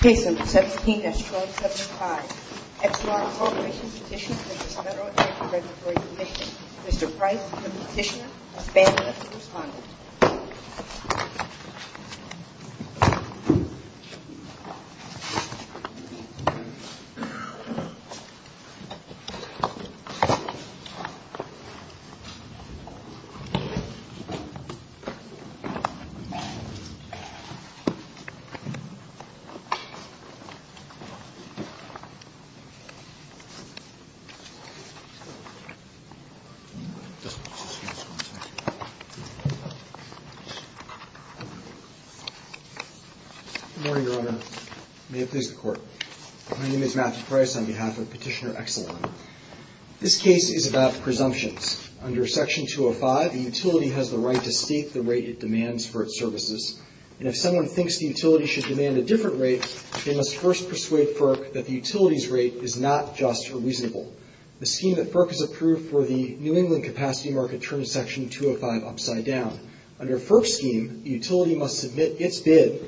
Case number 17-S-475. FDR Corporation's petition to the Federal Election Regulatory Commission. Mr. Price is the petitioner. Mr. Banks is the responder. Good morning, Your Honor. May it please the Court. My name is Matt Price on behalf of Petitioner Exelon. This case is about presumptions. Under Section 205, a utility has the right to state the rate it demands for its services. And if someone thinks the utility should demand a different rate, they must first persuade FERC that the utility's rate is not just or reasonable. The scheme that FERC has approved for the New England capacity market turns Section 205 upside down. Under FERC's scheme, the utility must submit its bid,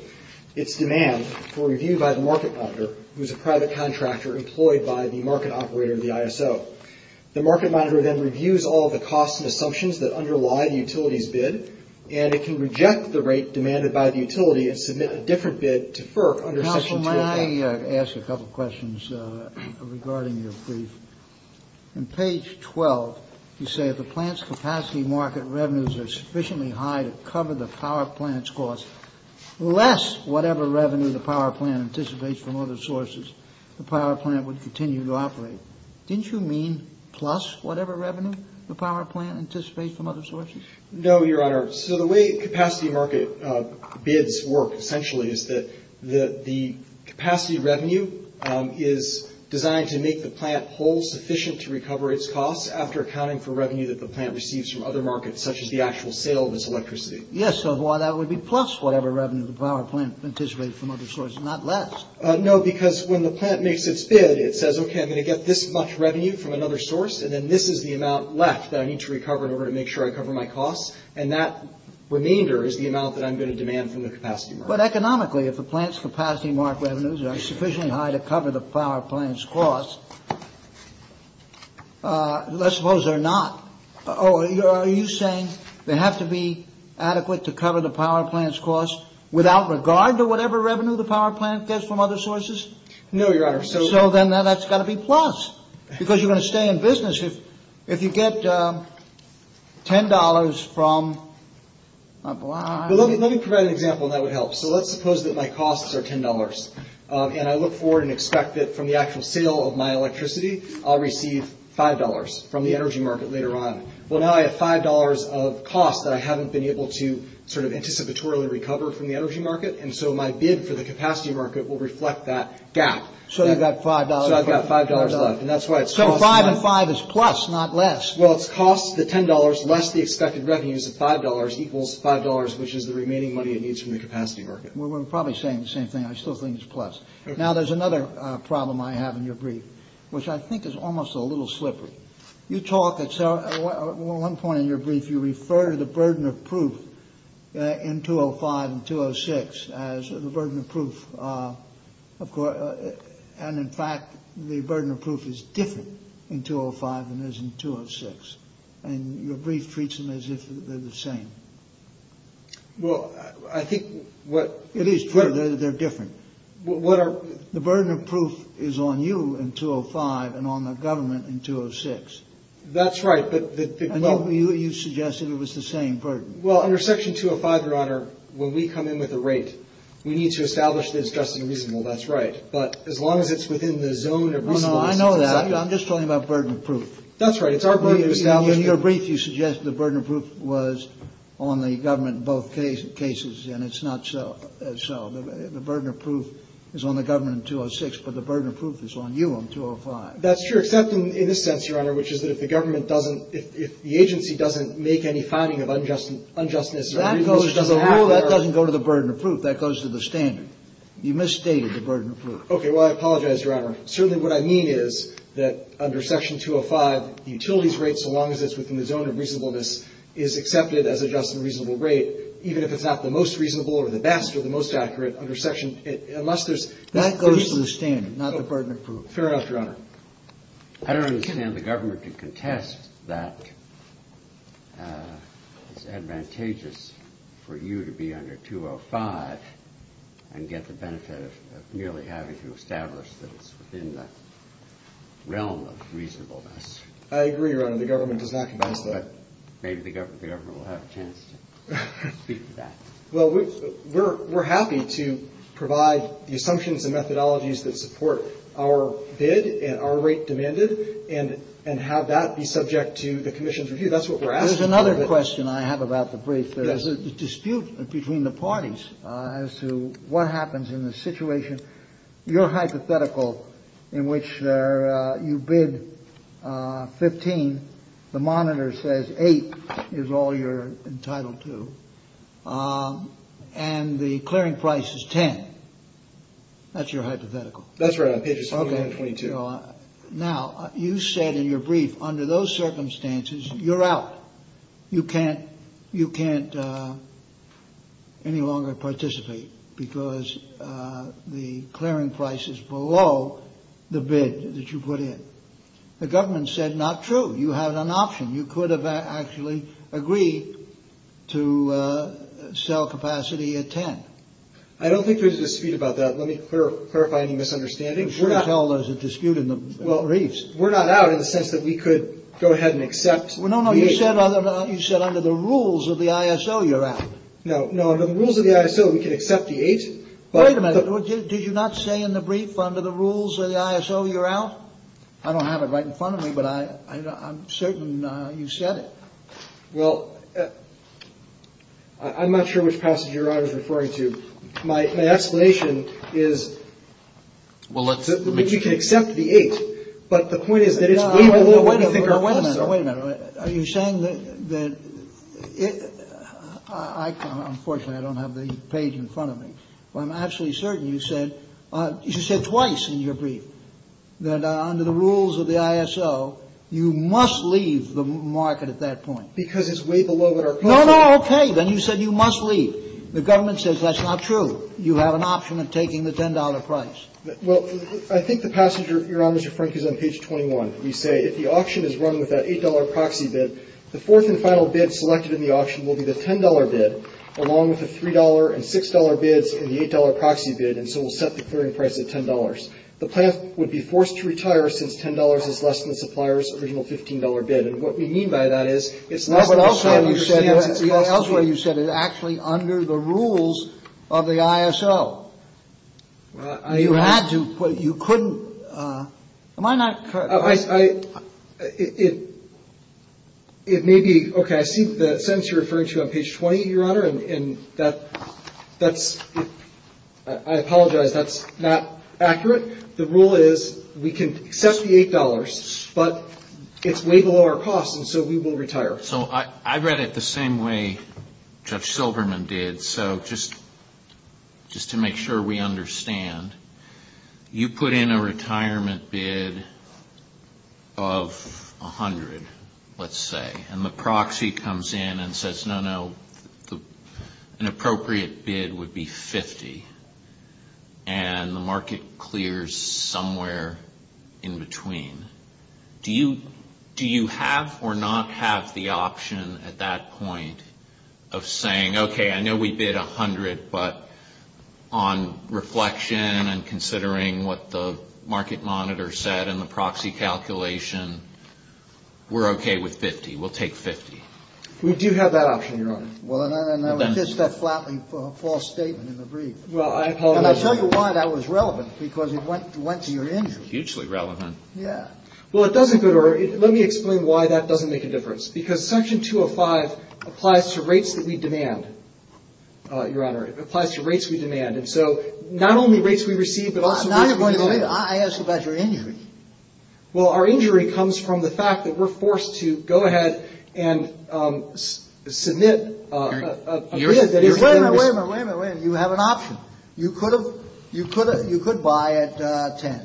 its demand, for review by the market monitor, who is a private contractor employed by the market operator, the ISO. The market monitor then reviews all the costs and assumptions that underlie the utility's bid, and it can reject the rate demanded by the utility and submit a different bid to FERC under Section 205. Counsel, may I ask a couple questions regarding your brief? On page 12, you say, if a plant's capacity market revenues are sufficiently high to cover the power plant's costs, less whatever revenue the power plant anticipates from other sources, the power plant would continue to operate. Didn't you mean plus whatever revenue the power plant anticipates from other sources? No, Your Honor. So the way capacity market bids work, essentially, is that the capacity revenue is designed to make the plant whole sufficient to recover its costs after accounting for revenue that the plant receives from other markets, such as the actual sale of its electricity. Yes, so why that would be plus whatever revenue the power plant anticipates from other sources, not less. No, because when the plant makes its bid, it says, okay, I'm going to get this much revenue from another source, and then this is the amount left that I need to recover in order to make sure I cover my costs, and that remainder is the amount that I'm going to demand from the capacity market. But economically, if a plant's capacity market revenues are sufficiently high to cover the power plant's costs, let's suppose they're not. Oh, are you saying they have to be adequate to cover the power plant's costs without regard to whatever revenue the power plant gets from other sources? No, Your Honor. So then that's got to be plus, because you're going to stay in business if you get $10 from a plant. Well, let me provide an example, and that would help. So let's suppose that my costs are $10, and I look forward and expect that from the actual sale of my electricity, I'll receive $5 from the energy market later on. Well, now I have $5 of costs that I haven't been able to sort of anticipatorily recover from the energy market, and so my bid for the capacity market will reflect that gap. So I've got $5 left. So $5 and $5 is plus, not less. Well, it costs the $10 less the expected revenues of $5 equals $5, which is the remaining money it needs from the capacity market. We're probably saying the same thing. I still think it's plus. Now there's another problem I have in your brief, which I think is almost a little slippery. You talk at one point in your brief, you refer to the burden of proof in 205 and 206 as the burden of proof, and in fact, the burden of proof is different in 205 than it is in 206, and your brief treats them as if they're the same. Well, I think what— It is true that they're different. What are— The burden of proof is on you in 205 and on the government in 206. That's right, but— And you suggested it was the same burden. Well, under Section 205, Your Honor, when we come in with a rate, we need to establish that it's just and reasonable. That's right. But as long as it's within the zone of— Well, no, I know that. I'm just talking about burden of proof. That's right. It's our burden of proof. Now in your brief, you suggested the burden of proof was on the government in both cases, and it's not so. The burden of proof is on the government in 206, but the burden of proof is on you in 205. That's true, except in this sense, Your Honor, which is that if the government doesn't—if the agency doesn't make any finding of unjustness— That doesn't go to the burden of proof. That goes to the standard. You misstated the burden of proof. Okay. Well, I apologize, Your Honor. Certainly what I mean is that under Section 205, the utilities rate, so long as it's within the zone of reasonableness, is accepted as a just and reasonable rate, even if it's not the most reasonable or the best or the most accurate under Section—unless there's— That goes to the standard, not the burden of proof. Fair ask, Your Honor. I don't understand the government to contest that it's advantageous for you to be under 205 and get the benefit of merely having to establish that it's within the realm of reasonableness. I agree, Your Honor. The government does not contest that. Maybe the government will have a chance to speak to that. Well, we're happy to provide the assumptions and methodologies that support our bid and our rate demanded and have that be subject to the commission's review. That's what we're asking for. There's another question I have about the brief. There's a dispute between the parties as to what happens in the situation. Your hypothetical, in which you bid 15, the monitor says 8 is all you're entitled to, and the clearing price is 10. That's your hypothetical. That's right. I paid you $722. Now, you said in your brief, under those circumstances, you're out. You can't any longer participate because the clearing price is below the bid that you put in. The government said not true. You had an option. You could have actually agreed to sell capacity at 10. I don't think there's a dispute about that. Let me clarify any misunderstandings. I'm sure it's all there's a dispute in the briefs. We're not out in the sense that we could go ahead and accept the 8. You said under the rules of the ISO, you're out. No, under the rules of the ISO, we could accept the 8. Wait a minute. Did you not say in the brief, under the rules of the ISO, you're out? I don't have it right in front of me, but I'm certain you said it. Well, I'm not sure which passage you're referring to. My explanation is that you could accept the 8, but the point is that it's way below. Wait a minute. Are you saying that... Unfortunately, I don't have the page in front of me, but I'm absolutely certain you said twice in your brief that under the rules of the ISO, you must leave the market at that point. Because it's way below our capacity. No, no, okay. Then you said you must leave. The government says that's not true. You have an option of taking the $10 price. Well, I think the passage you're on, Mr. Frank, is on page 21. You say, if the auction is run with that $8 proxy bid, the fourth and final bid selected in the auction will be the $10 bid, along with the $3 and $6 bids and the $8 proxy bid, and so we'll set the clearing price at $10. The plant would be forced to retire since $10 is less than the supplier's original $15 bid. What we mean by that is it's not what you said. Elsewhere, you said it's actually under the rules of the ISO. You had to, but you couldn't. Am I not correct? It may be. Okay, I see the sentence you're referring to on page 20, Your Honor, and that's... I apologize. That's not accurate. The rule is we can set the $8, but it's way below our cost, and so we will retire. So I read it the same way Judge Silverman did. So just to make sure we understand, you put in a retirement bid of $100, let's say, and the proxy comes in and says, no, no, an appropriate bid would be $50, and the market clears somewhere in between. Do you have or not have the option at that point of saying, okay, I know we bid $100, but on reflection and considering what the market monitor said and the proxy calculation, we're okay with $50. We'll take $50. We do have that option, Your Honor. Well, I noticed that flatly false statement in the brief. Well, I apologize. And I tell you why that was relevant, because it went to your injury. Hugely relevant. Yeah. Well, let me explain why that doesn't make a difference, because Section 205 applies to rates that we demand, Your Honor. It applies to rates we demand, and so not only rates we receive, but also... I asked about your injury. Well, our injury comes from the fact that we're forced to go ahead and submit a bid. Wait a minute, wait a minute, wait a minute. You have an option. You could buy at $10.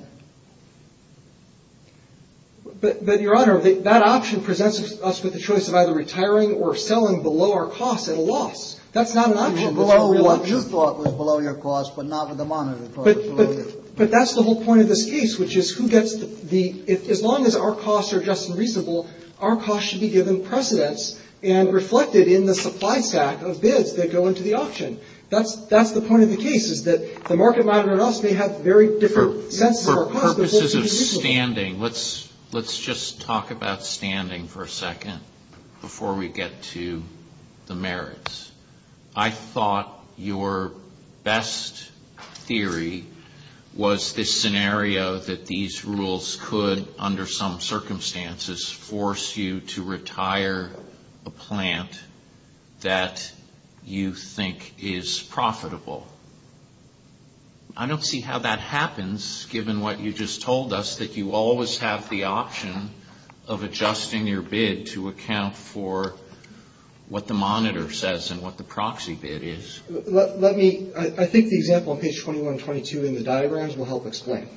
But, Your Honor, that option presents us with the choice of either retiring or selling below our cost at a loss. That's not an option. You thought it was below your cost, but not the monitor thought it was below your cost. But that's the whole point of this case, which is who gets the... As long as our costs are just and reasonable, our costs should be given precedence and reflected in the supply stack of bids that go into the option. That's the point of the case, is that the market monitor and us may have very different... For purposes of standing, let's just talk about standing for a second before we get to the merits. I thought your best theory was this scenario that these rules could, under some circumstances, force you to retire a plant that you think is profitable. I don't see how that happens, given what you just told us, that you always have the option of adjusting your bid to account for what the monitor says and what the proxy bid is. Let me... I think the example on page 21 and 22 in the diagrams will help explain.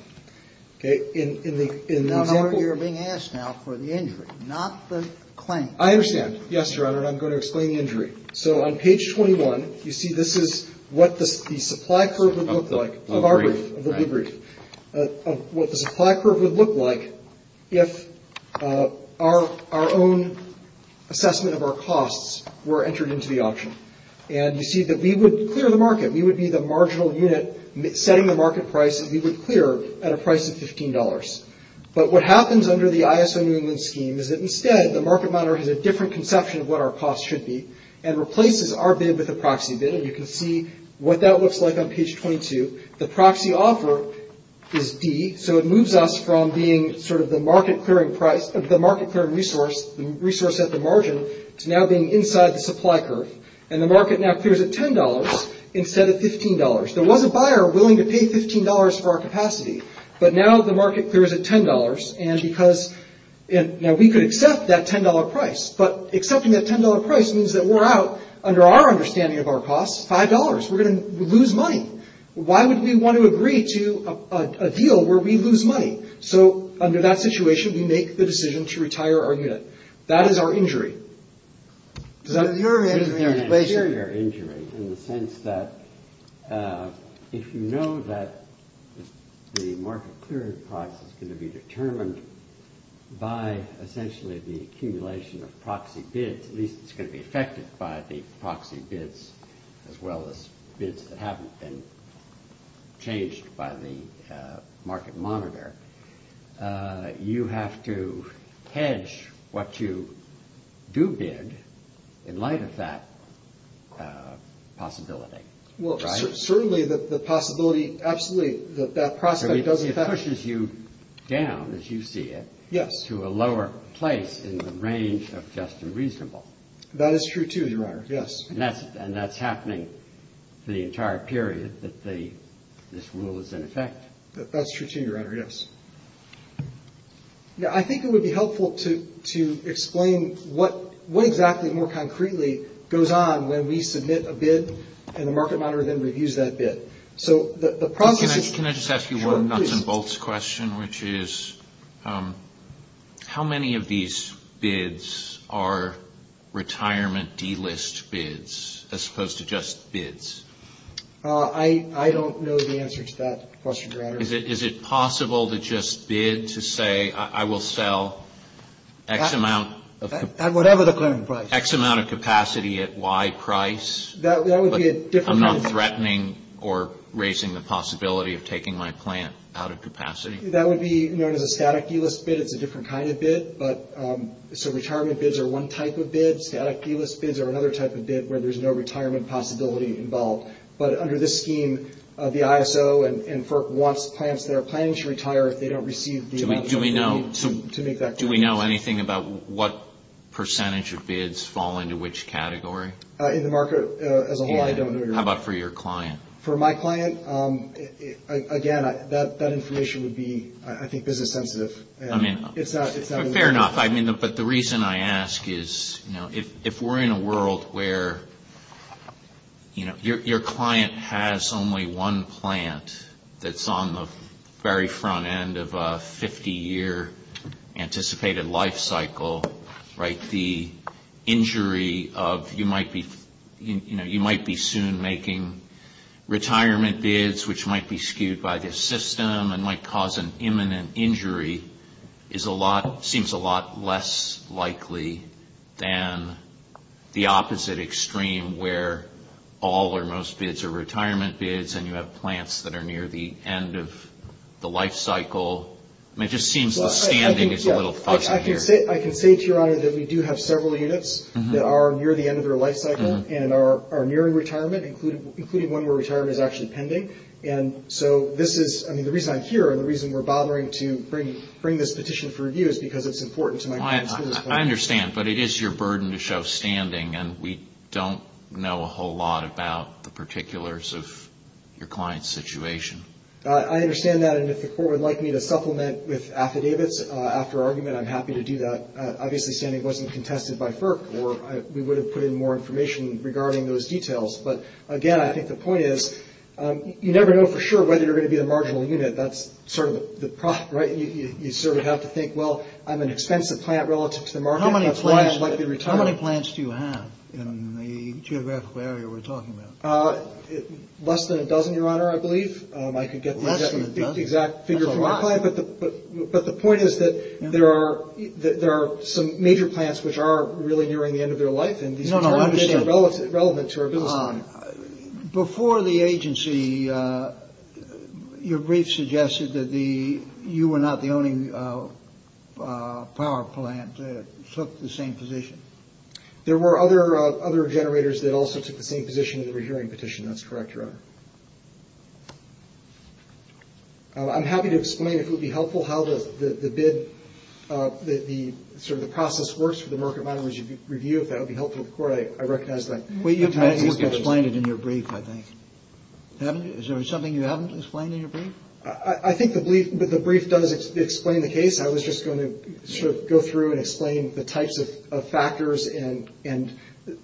Okay? In the example... Your Honor, you're being asked now for the injury, not the claim. I understand. Yes, Your Honor, and I'm going to explain the injury. So, on page 21, you see this is what the supply curve would look like. I'll be brief. I'll be brief. What the supply curve would look like if our own assessment of our costs were entered into the option. And you see that we would clear the market. We would be the marginal unit setting the market price that we would clear at a price of $15. But what happens under the ISO union scheme is that, instead, the market monitor has a different conception of what our costs should be and replaces our bid with a proxy bid. And you can see what that looks like on page 22. The proxy offer is D. So, it moves us from being sort of the market-clearing price of the market-clearing resource, the resource at the margin, to now being inside the supply curve. And the market now clears at $10 instead of $15. There was a buyer willing to pay $15 for our capacity, but now the market clears at $10. And because... Now, we could accept that $10 price, but accepting that $10 price means that we're out, under our understanding of our costs, $5. We're going to lose money. Why would we want to agree to a deal where we lose money? So, under that situation, we make the decision to retire our unit. That is our injury. So, your injury is an inferior injury in the sense that if you know that the market-clearing price is going to be determined by, essentially, the accumulation of proxy bids, at least it's going to be affected by the proxy bids, as well as bids that haven't been changed by the market monitor, you have to hedge what you do bid in light of that possibility, right? Well, certainly, the possibility, absolutely, that that process doesn't affect... So, it pushes you down, as you see it, to a lower place in the range of just and reasonable. That is true, too, Your Honor, yes. And that's happening for the entire period that this rule is in effect. That's true, too, Your Honor, yes. Yeah, I think it would be helpful to explain what exactly, more concretely, goes on when we submit a bid and the market monitor then reviews that bid. So, the problem is... Can I just ask you one nuts and bolts question, which is, how many of these bids are retirement delist bids as opposed to just bids? I don't know the answer to that question, Your Honor. Is it possible to just bid to say, I will sell X amount of... At whatever the planning price. X amount of capacity at Y price? That would be a different... I'm not threatening or raising the possibility of taking my plant out of capacity. That would be known as a static delist bid. It's a different kind of bid. So, retirement bids are one type of bid. Static delist bids are another type of bid where there's no retirement possibility involved. But under this scheme, the ISO and FERC wants plans to retire if they don't receive... Do we know anything about what percentage of bids fall into which category? In the market as a whole, I don't know, Your Honor. How about for your client? For my client, again, that information would be, I think, business sensitive. Fair enough. But the reason I ask is, if we're in a world where your client has only one plant that's on the very front end of a 50-year anticipated life cycle, the injury of... You might be soon making retirement bids, which might be skewed by the system and might cause an imminent injury. It seems a lot less likely than the opposite extreme where all or most bids are retirement bids and you have plants that are near the end of the life cycle. It just seems the standing is a little fuzzy here. I can say to you, Your Honor, that we do have several units that are near the end of their life cycle and are nearing retirement, including one where retirement is actually pending. And so this is... I mean, the reason I'm here and the reason we're bothering to bring this petition for review is because it's important to my client. I understand, but it is your burden to show standing, and we don't know a whole lot about the particulars of your client's situation. I understand that. And if the court would like me to supplement with affidavits after argument, I'm happy to do that. Obviously, standing wasn't contested by FERC, or we would have put in more information regarding those details. But, again, I think the point is you never know for sure whether you're going to get a marginal unit. That's sort of the problem, right? You sort of have to think, well, I'm an expensive plant relative to the market. How many plants do you have in the geographical area we're talking about? Less than a dozen, Your Honor, I believe. Less than a dozen? I think that's the exact figure for my client, but the point is that there are some major plants which are really nearing the end of their life. No, no, I understand. And these plants are relevant to our business. Before the agency, your brief suggested that you were not the only power plant that took the same position. There were other generators that also took the same position in the rehearing petition. That's correct, Your Honor. I'm happy to explain, if it would be helpful, how the bid, sort of the process works for the market model as you review it. That would be helpful to the court. I recognize that. You haven't explained it in your brief, I think. Is there something you haven't explained in your brief? I think the brief does explain the case. I was just going to sort of go through and explain the types of factors and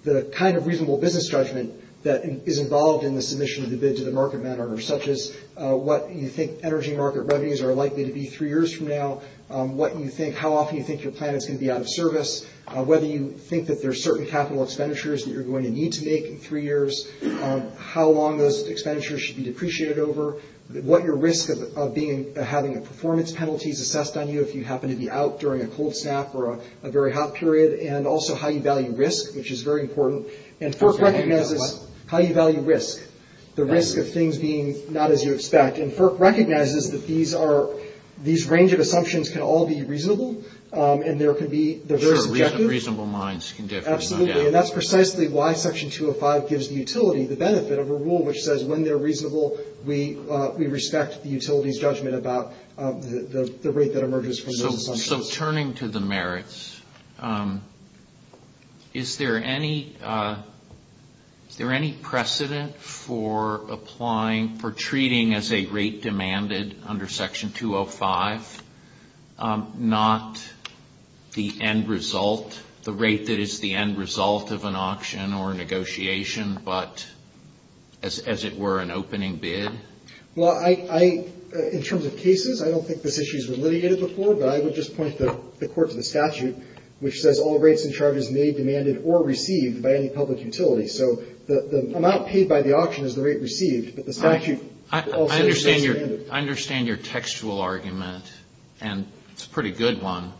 the kind of reasonable business judgment that is involved in the submission of the bids in the market manner, such as what you think energy market revenues are likely to be three years from now, what you think, how often you think your plant is going to be out of service, whether you think that there are certain capital expenditures that you're going to need to make in three years, how long those expenditures should be depreciated over, what your risk of having a performance penalty is assessed on you, if you happen to be out during a cold snap or a very hot period, and also how you value risk, which is very important. And FERC recognizes how you value risk, the risk of things being not as you expect. And FERC recognizes that these range of assumptions can all be reasonable, and there could be the very objectives. Reasonable minds can get things done. Absolutely, and that's precisely why Section 205 gives the utility, the benefit of a rule, which says when they're reasonable, we respect the utility's judgment about the rate that emerges from those assumptions. So turning to the merits, is there any precedent for applying, for treating as a rate demanded under Section 205, not the end result, not the rate that is the end result of an auction or a negotiation, but as it were, an opening bid? Well, in terms of cases, I don't think this issue has been litigated before, but I would just point to the Court's statute, which says all rates and charges made, demanded, or received by any public utility. So the amount paid by the auction is the rate received, but the statute... I understand your textual argument, and it's a pretty good one,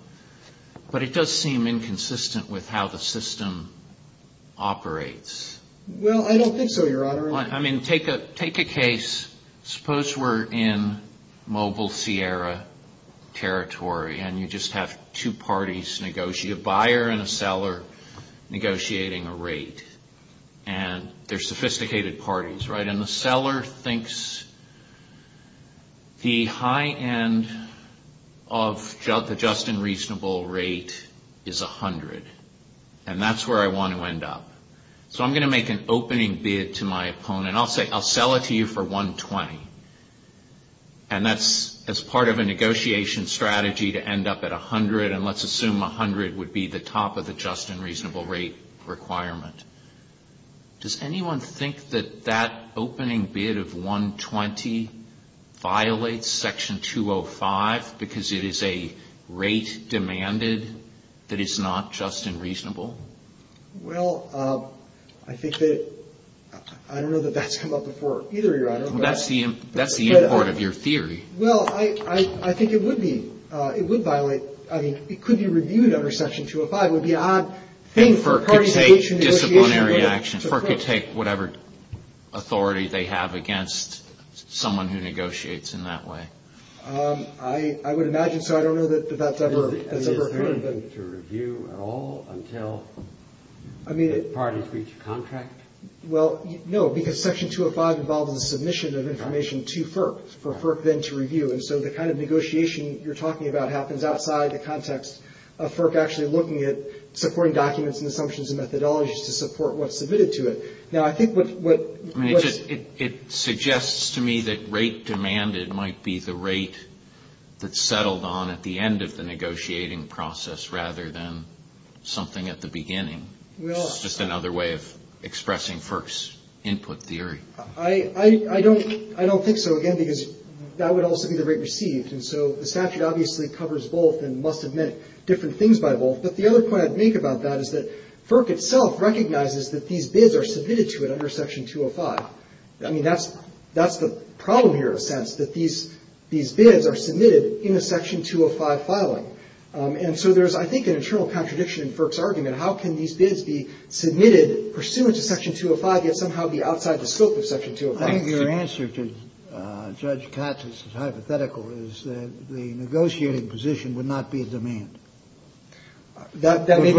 but it does seem inconsistent with how the system operates. Well, I don't think so, Your Honor. I mean, take a case. Suppose we're in mobile Sierra territory, and you just have two parties negotiate, a buyer and a seller negotiating a rate, and they're sophisticated parties, right? And the seller thinks the high end of the just and reasonable rate is $100, and that's where I want to end up. So I'm going to make an opening bid to my opponent. I'll sell it to you for $120, and that's as part of a negotiation strategy to end up at $100, and let's assume $100 would be the top of the just and reasonable rate requirement. Does anyone think that that opening bid of $120 violates Section 205 because it is a rate demanded that is not just and reasonable? Well, I think that... I don't know that that's come up before either, Your Honor. That's the import of your theory. Well, I think it would be. It would violate. I mean, it could be reviewed under Section 205. FERC could take disciplinary action. FERC could take whatever authority they have against someone who negotiates in that way. I would imagine so. I don't know that that's ever been... Has it been reviewed at all until the parties reach a contract? Well, no, because Section 205 involves the submission of information to FERC for FERC then to review, and so the kind of negotiation you're talking about happens outside the context of FERC which is actually looking at supporting documents and assumptions and methodologies to support what's submitted to it. Now, I think what... It suggests to me that rate demanded might be the rate that's settled on at the end of the negotiating process rather than something at the beginning. Well... It's just another way of expressing FERC's input theory. I don't think so, again, because that would also be the rate received, and so the statute obviously covers both and must have meant different things by both, but the other point I'd make about that is that FERC itself recognizes that these bids are submitted to it under Section 205. I mean, that's the problem here in a sense, that these bids are submitted in a Section 205 filing, and so there's, I think, an internal contradiction in FERC's argument. How can these bids be submitted pursuant to Section 205 yet somehow be outside the scope of Section 205? I think your answer to Judge Patz's hypothetical is that the negotiating position would not be a demand. That may be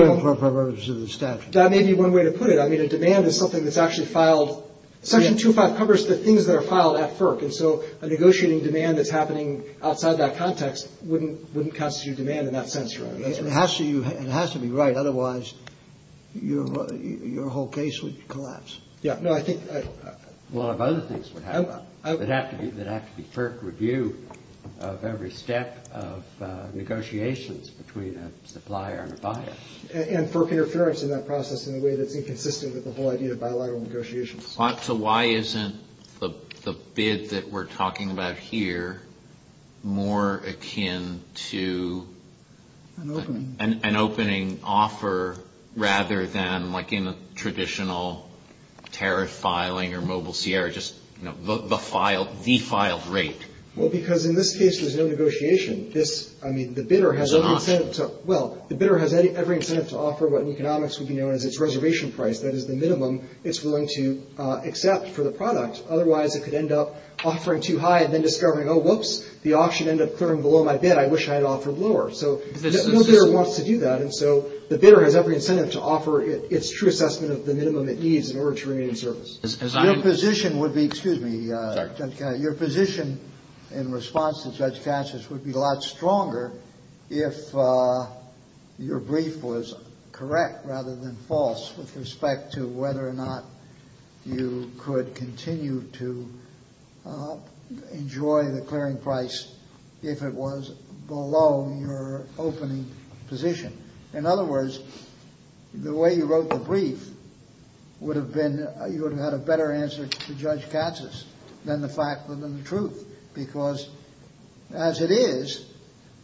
one way to put it. I mean, a demand is something that's actually filed... Section 205 covers the things that are filed at FERC, and so a negotiating demand that's happening outside that context wouldn't constitute demand in that sense, really. It has to be right, otherwise your whole case would collapse. Yeah, no, I think a lot of other things would happen. It'd have to be FERC review of every step of negotiations between a supplier and a buyer. And FERC interference in that process in a way that's inconsistent with the whole idea of bilateral negotiations. So why isn't the bid that we're talking about here more akin to an opening offer rather than like in a traditional tariff filing or Mobile Sierra, just the defiled rate? Well, because in this case there's no negotiation. I mean, the bidder has every incentive to offer what in economics would be known as its reservation price. That is the minimum it's willing to accept for the product. Otherwise it could end up offering too high and then discovering, oh, whoops, the auction ended up clearing below my bid. I wish I had offered lower. So the bidder wants to do that, and so the bidder has every incentive to offer its true assessment of the minimum it needs in order to remain in service. Your position would be, excuse me, Judge Cassius, your position in response to Judge Cassius would be a lot stronger if your brief was correct rather than false with respect to whether or not you could continue to enjoy the clearing price if it was below your opening position. In other words, the way you wrote the brief would have had a better answer to Judge Cassius than the fact of the truth because as it is,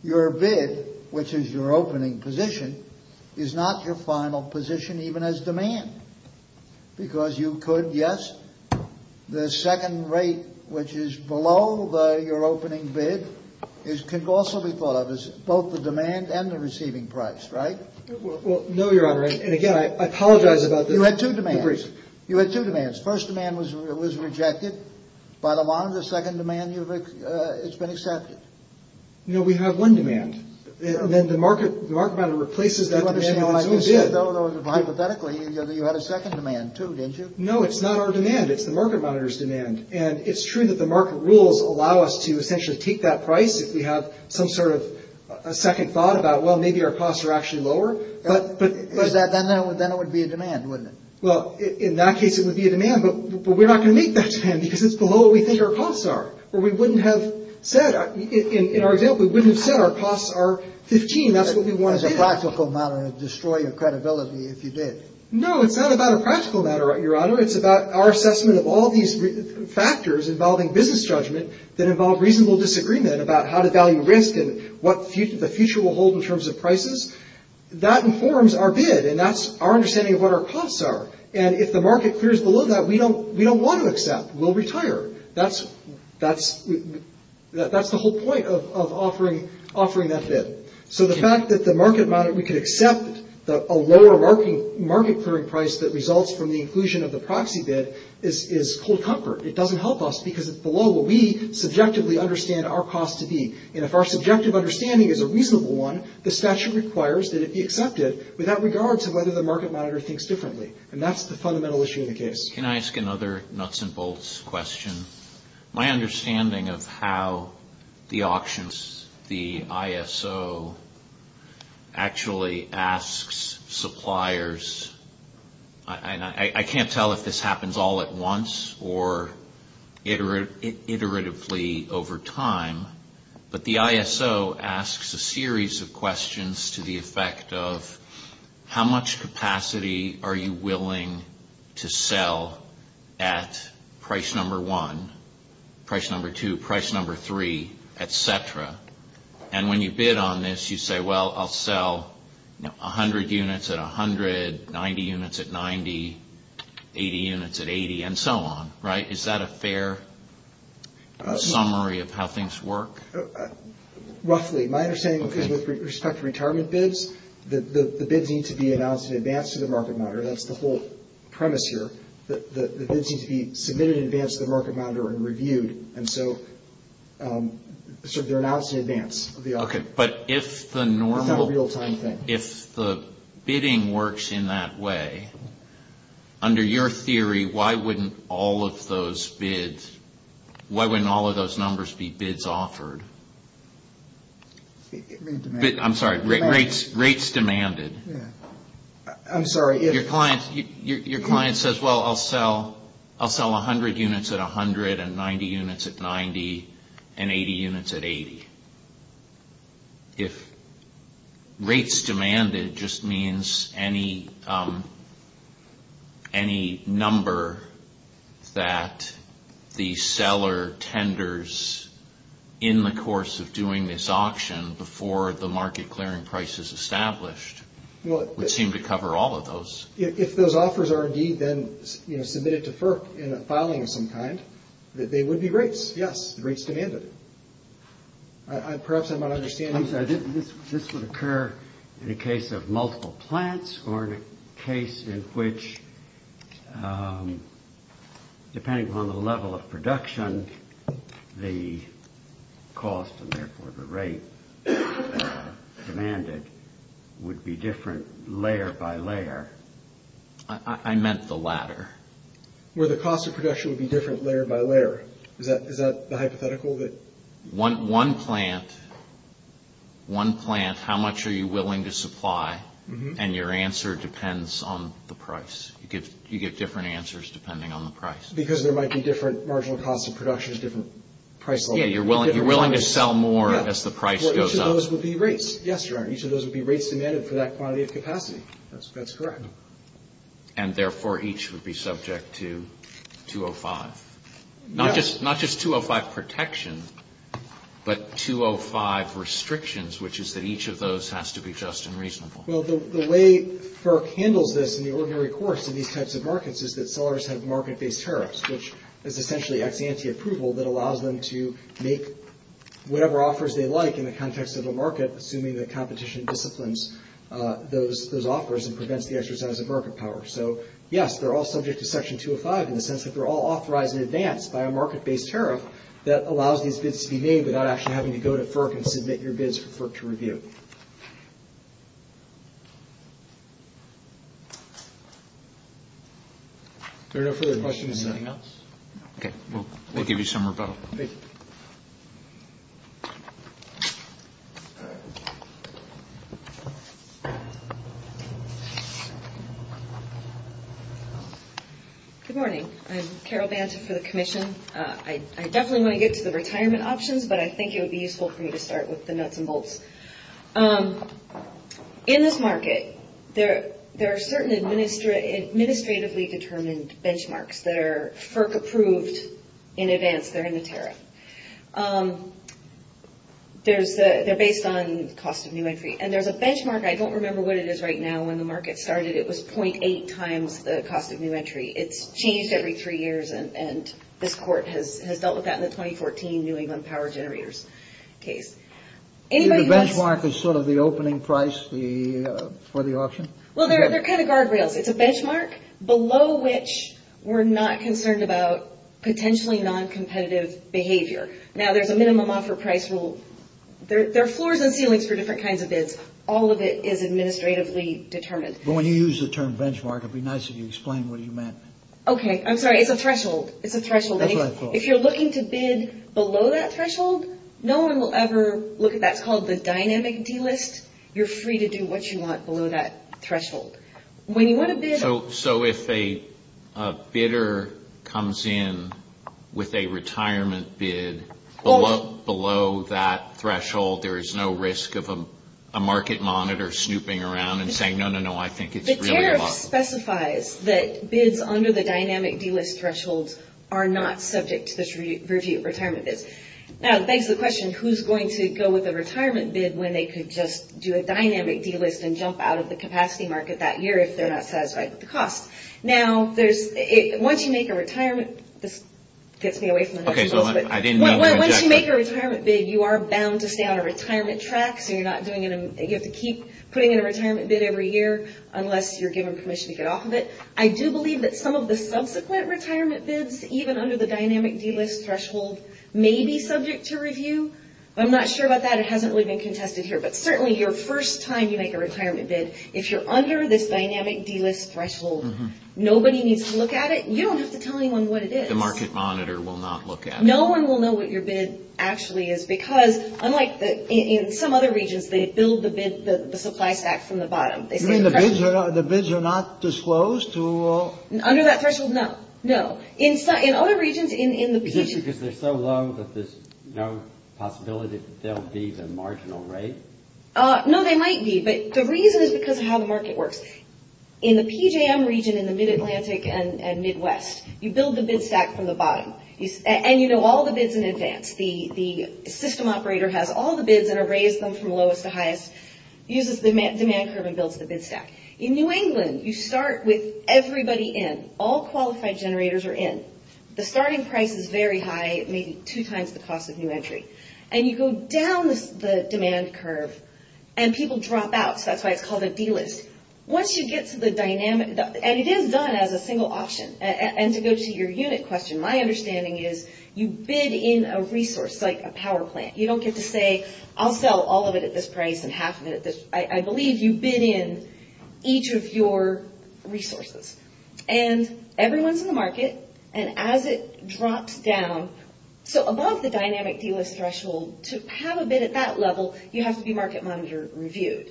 your bid, which is your opening position, is not your final position even as demand because you could, yes, the second rate, which is below your opening bid, can also be thought of as both the demand and the receiving price, right? Well, no, Your Honor, and again, I apologize about that. You had two demands. You had two demands. The first demand was rejected by the monitor. The second demand has been accepted. No, we have one demand. Then the market monitor replaces that demand. Hypothetically, you had a second demand too, didn't you? No, it's not our demand. It's the market monitor's demand. And it's true that the market rules allow us to essentially keep that price if we have some sort of second thought about, well, maybe our costs are actually lower. But then it would be a demand, wouldn't it? Well, in that case, it would be a demand, but we're not going to make that demand because it's below what we think our costs are, or we wouldn't have said. In our example, we wouldn't have said our costs are 15. That's what we want. It's a practical matter. It would destroy your credibility if you did. No, it's not about a practical matter, Your Honor. It's about our assessment of all these factors involving business judgment that involve reasonable disagreement about how to value risk and what the future will hold in terms of prices. That informs our bid, and that's our understanding of what our costs are. And if the market clears below that, we don't want to accept. We'll retire. That's the whole point of offering that bid. So the fact that we could accept a lower market clearing price that results from the inclusion of the proxy bid is cold comfort. It doesn't help us because it's below what we subjectively understand our costs to be. And if our subjective understanding is a reasonable one, this statute requires that it be accepted without regard to whether the market monitor thinks differently. And that's the fundamental issue in the case. Can I ask another nuts and bolts question? My understanding of how the auctions, the ISO, actually asks suppliers, and I can't tell if this happens all at once or iteratively over time, but the ISO asks a series of questions to the effect of how much capacity are you willing to sell at price number one, price number two, price number three, et cetera. And when you bid on this, you say, well, I'll sell 100 units at 100, 90 units at 90, 80 units at 80, and so on. Right? Is that a fair summary of how things work? Roughly. My understanding with respect to retirement bids, the bids need to be announced in advance to the market monitor. That's the whole premise here. The bids need to be submitted in advance to the market monitor and reviewed. And so they're announced in advance of the auction. But if the bidding works in that way, under your theory, why wouldn't all of those bids, why wouldn't all of those numbers be bids offered? I'm sorry, rates demanded. I'm sorry. Your client says, well, I'll sell 100 units at 100 and 90 units at 90 and 80 units at 80. If rates demanded just means any number that the seller tenders in the course of doing this auction before the market clearing price is established, it would seem to cover all of those. If those offers are indeed then submitted to FERC in a filing of some kind, they would be rates. Yes, rates demanded. Perhaps I'm not understanding. This would occur in a case of multiple plants or in a case in which, depending on the level of production, the cost and therefore the rate demanded would be different layer by layer. I meant the latter. Where the cost of production would be different layer by layer. Is that the hypothetical? One plant, how much are you willing to supply? And your answer depends on the price. You get different answers depending on the price. Because there might be different marginal costs of production, different price levels. Yes, you're willing to sell more as the price goes up. Each of those would be rates. Yes, you are. Each of those would be rates demanded for that quantity of capacity. That's correct. And therefore, each would be subject to 205. Not just 205 protection, but 205 restrictions, which is that each of those has to be just and reasonable. Well, the way FERC handles this in the ordinary course in these types of markets is that sellers have market-based tariffs, which is essentially ex-ante approval that allows them to make whatever offers they like in the context of a market, assuming that competition disciplines those offers and prevents the exercise of market power. So, yes, they're all subject to Section 205 in the sense that they're all authorized in advance by a market-based tariff that allows these bids to be made without actually having to go to FERC and submit your bids for FERC to review. Are there no further questions or anything else? Okay. We'll give you some rebuttal. Okay. Good morning. I'm Carol Vance for the Commission. I definitely want to get to the retirement options, but I think it would be useful for me to start with the nuts and bolts. In this market, there are certain administratively determined benchmarks that are FERC-approved in advance. They're in the tariff. They're based on cost of new entry, and there's a benchmark. I don't remember what it is right now. When the market started, it was 0.8 times the cost of new entry. It's changed every three years, and this court has dealt with that in the 2014 New England Power Generators case. The benchmark is sort of the opening price for the option? Well, they're kind of guardrails. It's a benchmark below which we're not concerned about potentially non-competitive behavior. Now, there's a minimum offer price rule. There are floors and ceilings for different kinds of bids. All of it is administratively determined. When you use the term benchmark, it would be nice if you explained what you meant. Okay. I'm sorry. It's a threshold. It's a threshold. If you're looking to bid below that threshold, no one will ever look at that. It's called the dynamic deal list. You're free to do what you want below that threshold. So, if a bidder comes in with a retirement bid below that threshold, there is no risk of a market monitor snooping around and saying, no, no, no, I think it's really low. The tariff specifies that bids under the dynamic deal list thresholds are not subject to this review of retirement bids. Now, that begs the question, who's going to go with a retirement bid when they could just do a dynamic deal list and then jump out of the capacity market that year if they're not satisfied with the cost? Now, once you make a retirement bid, you are bound to stay on a retirement track, so you have to keep putting in a retirement bid every year unless you're given permission to get off of it. I do believe that some of the subsequent retirement bids, even under the dynamic deal list threshold, may be subject to review. I'm not sure about that. It hasn't really been contested here. But certainly your first time you make a retirement bid, if you're under this dynamic deal list threshold, nobody needs to look at it. You don't have to tell anyone what it is. The market monitor will not look at it. No one will know what your bid actually is because, unlike in some other regions, they bill the supply stacks from the bottom. You mean the bids are not disclosed to all? Under that threshold, no. No. In other regions, in the position... No, they might be. But the reason is because of how the market works. In the PJM region, in the mid-Atlantic and Midwest, you build the bid stack from the bottom. And you know all the bids in advance. The system operator has all the bids that are raised from the lowest to highest, uses the demand curve, and builds the bid stack. In New England, you start with everybody in. All qualified generators are in. The starting price is very high, maybe two times the cost of new entry. And you go down the demand curve, and people drop out. That's why it's called a B-list. Once you get to the dynamic... And it is done as a single option. And to go to your unit question, my understanding is you bid in a resource, like a power plant. You don't get to say, I'll sell all of it at this price and half of it at this... I believe you bid in each of your resources. And everyone's in the market. And as it drops down... So, above the dynamic B-list threshold, to have a bid at that level, you have to be market monitor reviewed.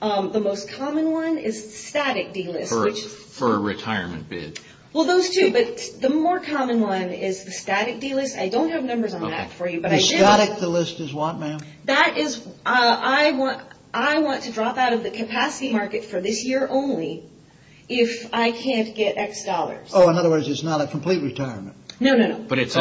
The most common one is static B-list. For a retirement bid. Well, those two. But the more common one is static B-list. I don't have numbers on that for you, but I did... Static, the list is what, ma'am? That is... I want to drop out of the capacity market for this year only if I can't get X dollars. Oh, in other words, it's not a complete retirement. No, no, no. But it's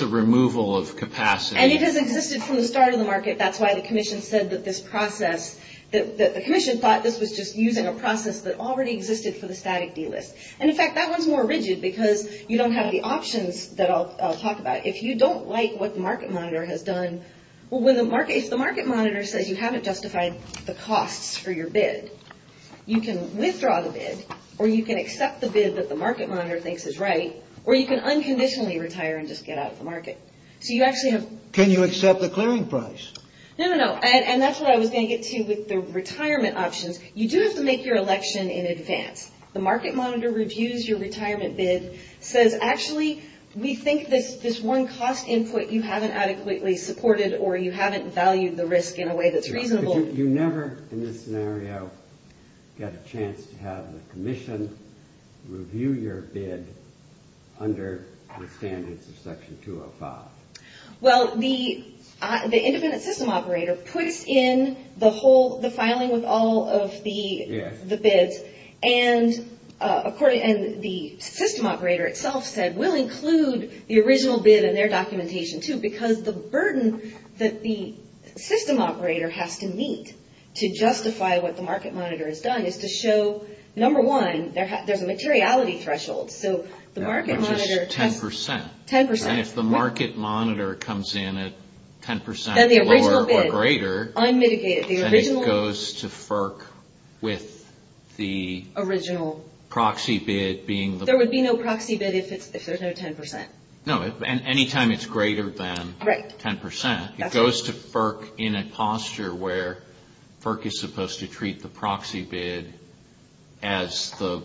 a removal of capacity. And it has existed from the start of the market. That's why the commission said that this process... The commission thought this was just using a process that already existed for the static B-list. And, in fact, that one's more rigid because you don't have the options that I'll talk about. If you don't like what the market monitor has done... Well, when the market monitor says you haven't justified the costs for your bid, you can withdraw the bid, or you can accept the bid that the market monitor thinks is right, or you can unconditionally retire and just get out of the market. So you actually have... Can you accept the clearing price? No, no, no. And that's what I was saying, too, with the retirement options. You do have to make your election in advance. The market monitor reviews your retirement bid, says, actually, we think that this one cost input you haven't adequately supported or you haven't valued the risk in a way that's reasonable... You never, in this scenario, get a chance to have the commission review your bid under the standards of Section 205. Well, the independent system operator puts in the filing with all of the bids, and the system operator itself said, we'll include the original bid in their documentation, too, because the burden that the system operator has to meet to justify what the market monitor has done is to show, number one, there's a materiality threshold. So the market monitor... Which is 10%. 10%. And if the market monitor comes in at 10% or greater... Then the original bid, unmitigated. Then it goes to FERC with the... Original... Proxy bid being... There would be no proxy bid if there's no 10%. No, and any time it's greater than 10%, it goes to FERC in a posture where FERC is supposed to treat the proxy bid as the...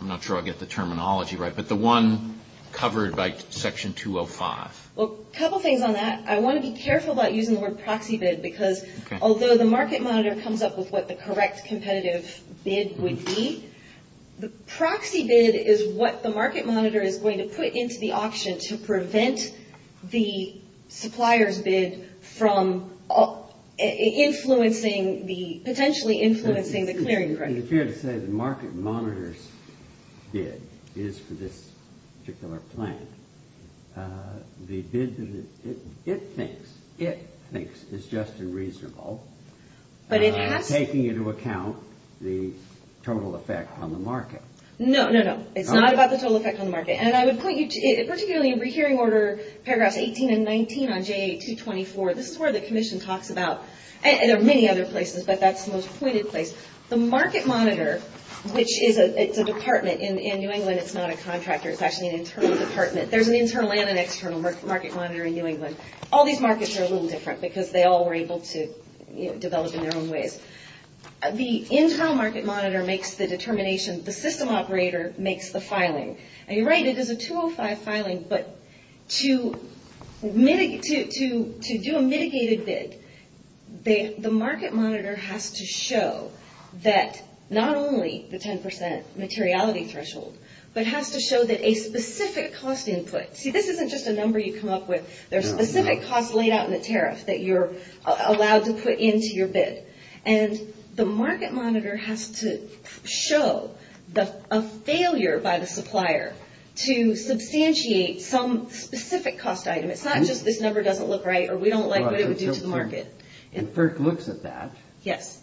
I'm not sure I get the terminology right, but the one covered by Section 205. Well, a couple things on that. I want to be careful about using the word proxy bid because although the market monitor comes up with what the correct competitive bid would be, the proxy bid is what the market monitor is going to put into the auction to prevent the supplier's bid from influencing the... Potentially influencing the clearing price. It appears that the market monitor's bid is for this particular plan. The bid that it thinks is just and reasonable. But it's... It's not about the total effect on the market. No, no, no. It's not about the total effect on the market. And I would point you to... Particularly in Rehearing Order Paragraph 18 and 19 on J.A. 224, this is where the commission talks about... And there are many other places that that's the most pointed place. The market monitor, which is a department in New England. It's not a contractor. It's actually an internal department. There's an internal and an external market monitor in New England. All these markets are a little different because they all were able to develop in their own ways. The internal market monitor makes the determination. The system operator makes the filing. And you're right. This is a 205 filing. But to do a mitigated bid, the market monitor has to show that not only the 10% materiality threshold, but has to show that a specific cost input... See, this isn't just a number you come up with. There are specific costs laid out in the tariff that you're allowed to put into your bid. And the market monitor has to show a failure by the supplier to substantiate some specific cost item. It's not just this number doesn't look right or we don't like what it would do to the market. And FERC looks at that. Yes.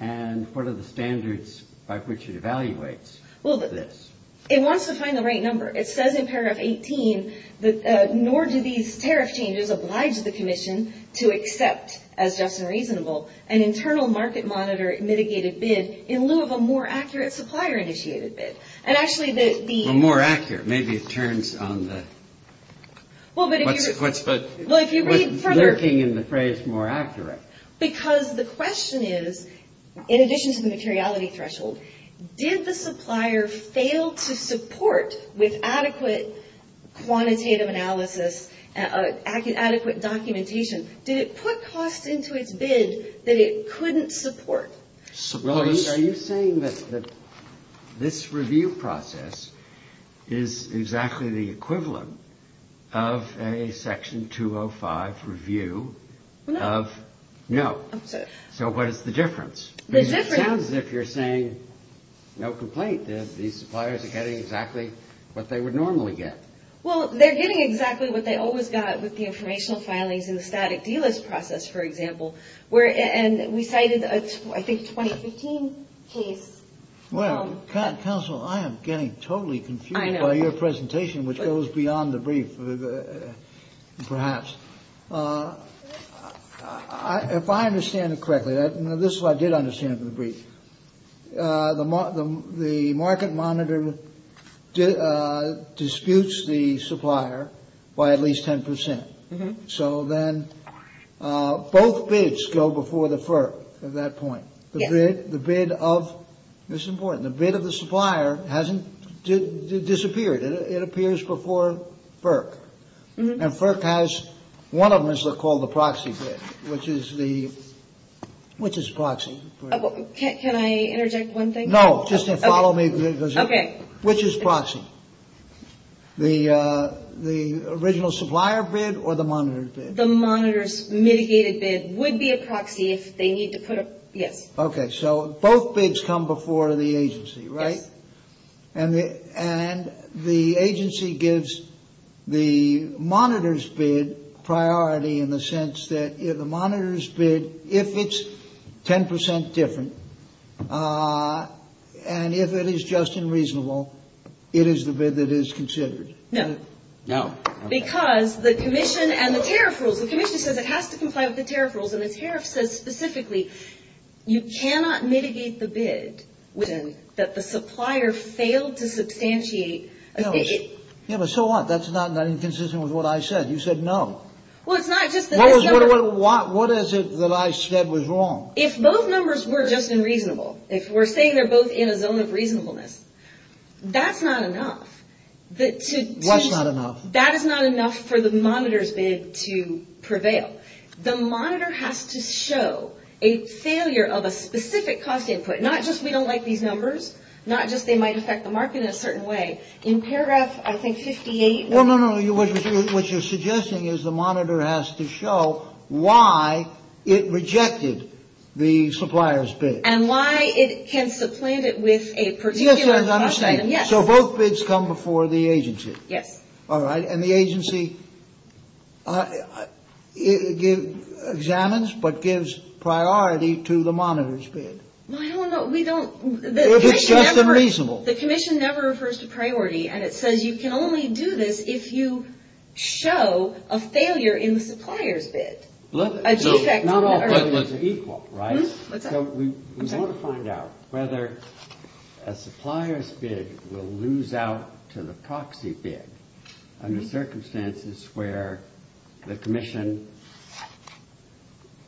And what are the standards by which it evaluates this? It wants to find the right number. It says in paragraph 18 that nor do these tariff changes oblige the commission to accept, as just and reasonable, an internal market monitor mitigated bid in lieu of a more accurate supplier initiated bid. And actually the... Well, more accurate. Maybe it turns on the... Well, but if you read further... Lurking in the phrase more accurate. Because the question is, in addition to the materiality threshold, did the supplier fail to support with adequate quantitative analysis, adequate documentation? Did it put cost into its bid that it couldn't support? Are you saying that this review process is exactly the equivalent of a section 205 review of... No. No. So what is the difference? The difference... It sounds as if you're saying, no complaint. These suppliers are getting exactly what they would normally get. Well, they're getting exactly what they always got with the informational filings and the static D-list process, for example. And we cited a, I think, 2015 case. Well, counsel, I am getting totally confused by your presentation, which goes beyond the brief, perhaps. If I understand it correctly, and this is what I did understand from the brief, the market monitor disputes the supplier by at least 10%. So then both bids go before the FERC at that point. The bid of... This is important. The bid of the supplier hasn't disappeared. It appears before FERC. And FERC has... One of them is called the proxy bid, which is the... Which is proxy? No. Just follow me. Okay. Which is proxy? The original supplier bid or the monitor bid? The monitor's mitigated bid would be a proxy if they need to put... Yes. Okay. So both bids come before the agency, right? And the agency gives the monitor's bid priority in the sense that if the monitor's bid... It is the bid that is considered. No. No. Because the commission and the tariff rules... The commission says it has to comply with the tariff rules, and the tariff says specifically you cannot mitigate the bid that the supplier failed to substantiate... Yeah, but so what? That's not inconsistent with what I said. You said no. Well, it's not just... What is it that I said was wrong? If both numbers were just unreasonable, if we're saying they're both in a zone of reasonableness, that's not enough. What's not enough? That is not enough for the monitor's bid to prevail. The monitor has to show a failure of a specific cost input, not just we don't like these numbers, not just they might affect the market in a certain way. In paragraphs, I think 58... No, no, no. What you're suggesting is the monitor has to show why it rejected the supplier's bid. And why it can supplant it with a particular... Yes, I understand. So both bids come before the agency. Yes. All right. And the agency examines but gives priority to the monitor's bid. Well, I don't know. We don't... It's just unreasonable. The commission never refers to priority, and it says you can only do this if you show a failure in the supplier's bid. Not all bids are equal, right? So we want to find out whether a supplier's bid will lose out to the proxy bid under circumstances where the commission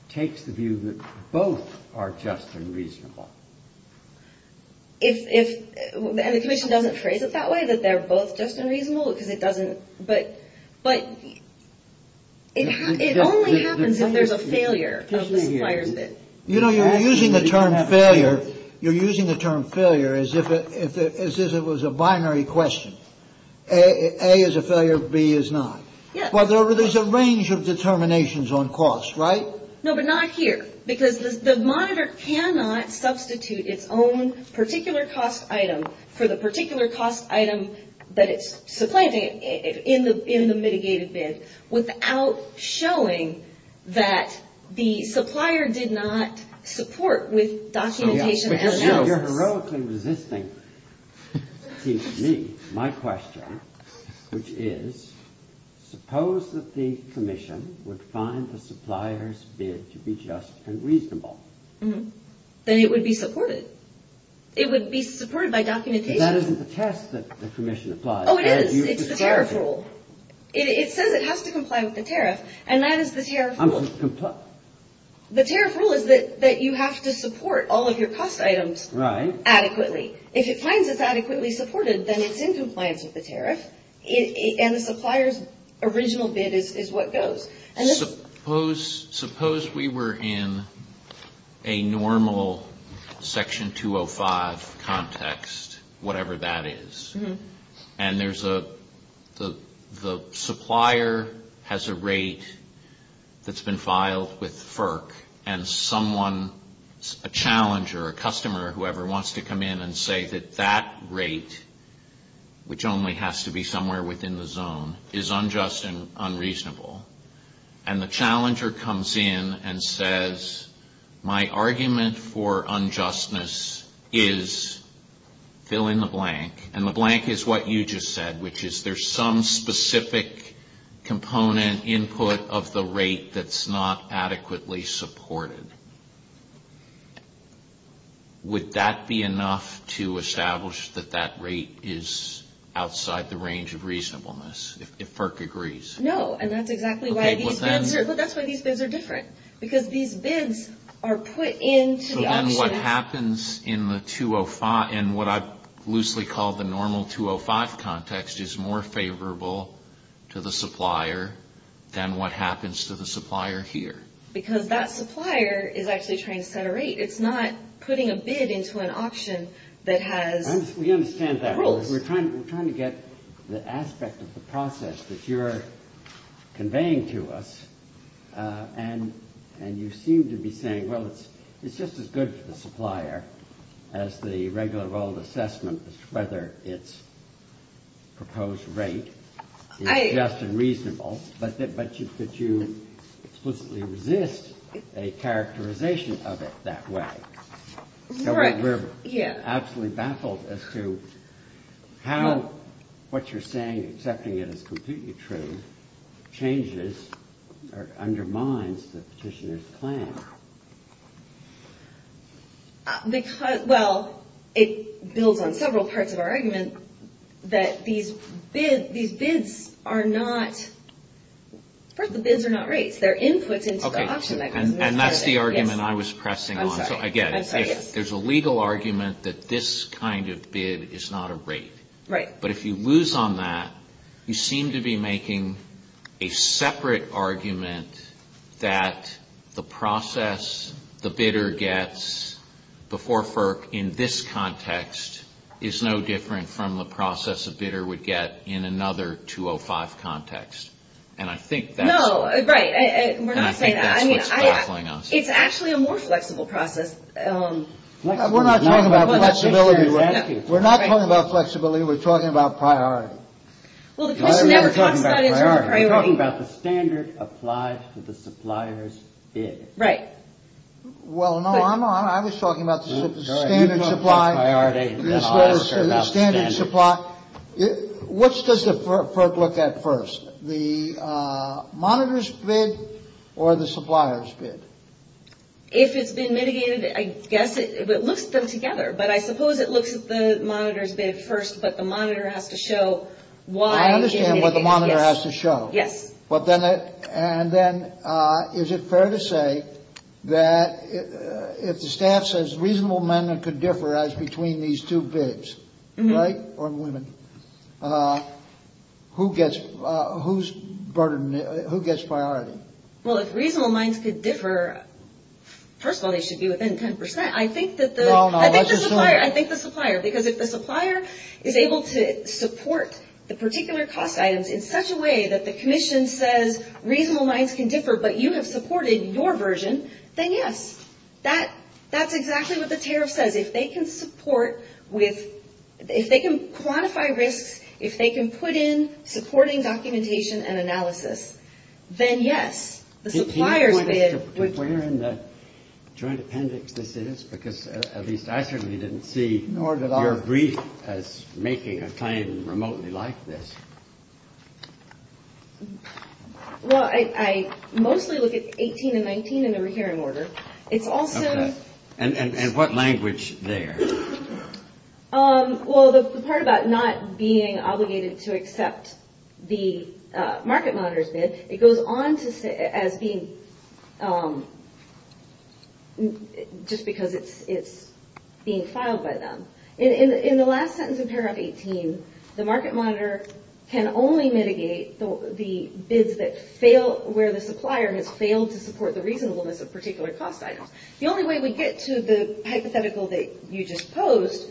takes the view that both are just and reasonable. If... And the commission doesn't phrase it that way, that they're both just and reasonable, because it doesn't... But it only happens if there's a failure of the supplier's bid. You know, you're using the term failure as if it was a binary question. A is a failure, B is not. Yes. Well, there's a range of determinations on cost, right? No, but not here, because the monitor cannot substitute its own particular cost item for the particular cost item that it's supplying in the mitigated bid without showing that the supplier did not support with documentation... You're heroically resisting my question, which is, suppose that the commission would find the supplier's bid to be just and reasonable. Then it would be supported. It would be supported by documentation. But that isn't the task that the commission applies. Oh, it is. It's the tariff rule. It says it has to comply with the tariff, and that is the tariff rule. The tariff rule is that you have to support all of your cost items adequately. If it finds it's adequately supported, then it's in compliance with the tariff, and the supplier's original bid is what goes. Suppose we were in a normal Section 205 context, whatever that is, and the supplier has a rate that's been filed with FERC, and someone, a challenger, a customer, whoever, wants to come in and say that that rate, which only has to be somewhere within the zone, is unjust and unreasonable, and the challenger comes in and says, my argument for unjustness is fill in the blank, and the blank is what you just said, which is there's some specific component input of the rate that's not adequately supported. Would that be enough to establish that that rate is outside the range of reasonableness, if FERC agrees? No, and that's exactly why these things are different, because these bids are put into the option. So then what happens in the 205, and what I loosely call the normal 205 context, is more favorable to the supplier than what happens to the supplier here. Because that supplier is actually trying to set a rate. It's not putting a bid into an option that has... We understand that. We're trying to get the aspect of the process that you're conveying to us, and you seem to be saying, well, it's just as good for the supplier as the regular level of assessment, whether its proposed rate is just and reasonable, but could you explicitly resist a characterization of it that way? Right. We're absolutely baffled as to how what you're saying, accepting it as completely true, changes or undermines the petitioner's plan. Well, it builds on several parts of our argument that these bids are not... First, the bids are not rates. They're inputs into the option. And that's the argument I was pressing on. I get it. There's a legal argument that this kind of bid is not a rate. Right. But if you lose on that, you seem to be making a separate argument that the process the bidder gets before FERC in this context is no different from the process a bidder would get in another 205 context. And I think that's what's going on. No. Right. We're not saying that. I mean, it's actually a more flexible process. We're not talking about flexibility. We're not talking about flexibility. We're talking about priority. We're talking about the standard applies to the supplier's bid. Right. Well, no, I was talking about the standard supply. What does the FERC look at first? The monitor's bid or the supplier's bid? If it's been mitigated, I guess it looks at them together. But I suppose it looks at the monitor's bid first, but the monitor has to show why. I understand what the monitor has to show. Yes. And then is it fair to say that if the staff says reasonable men could differ as between these two bids, right, or women, who gets priority? Well, if reasonable minds could differ, first of all, they should be within 10%. I think the supplier. Because if the supplier is able to support the particular cost items in such a way that the commission says reasonable minds can differ, but you have supported your version, then yes. That's exactly what the tariff says. If they can support with – if they can quantify risk, if they can put in supporting documentation and analysis, then yes, the supplier's bid. Do you know where in the Joint Appendix this is? Because at least I certainly didn't see your brief as making a claim remotely like this. Well, I mostly look at 18 and 19 in the recurring order. It's also – Okay. And what language there? Well, the part about not being obligated to accept the market monitor's bid, it goes on to say as being – just because it's being filed by them. In the last sentence of paragraph 18, the market monitor can only mitigate the bids that fail – where the supplier has failed to support the reasonableness of a particular cost item. The only way we get to the hypothetical that you just posed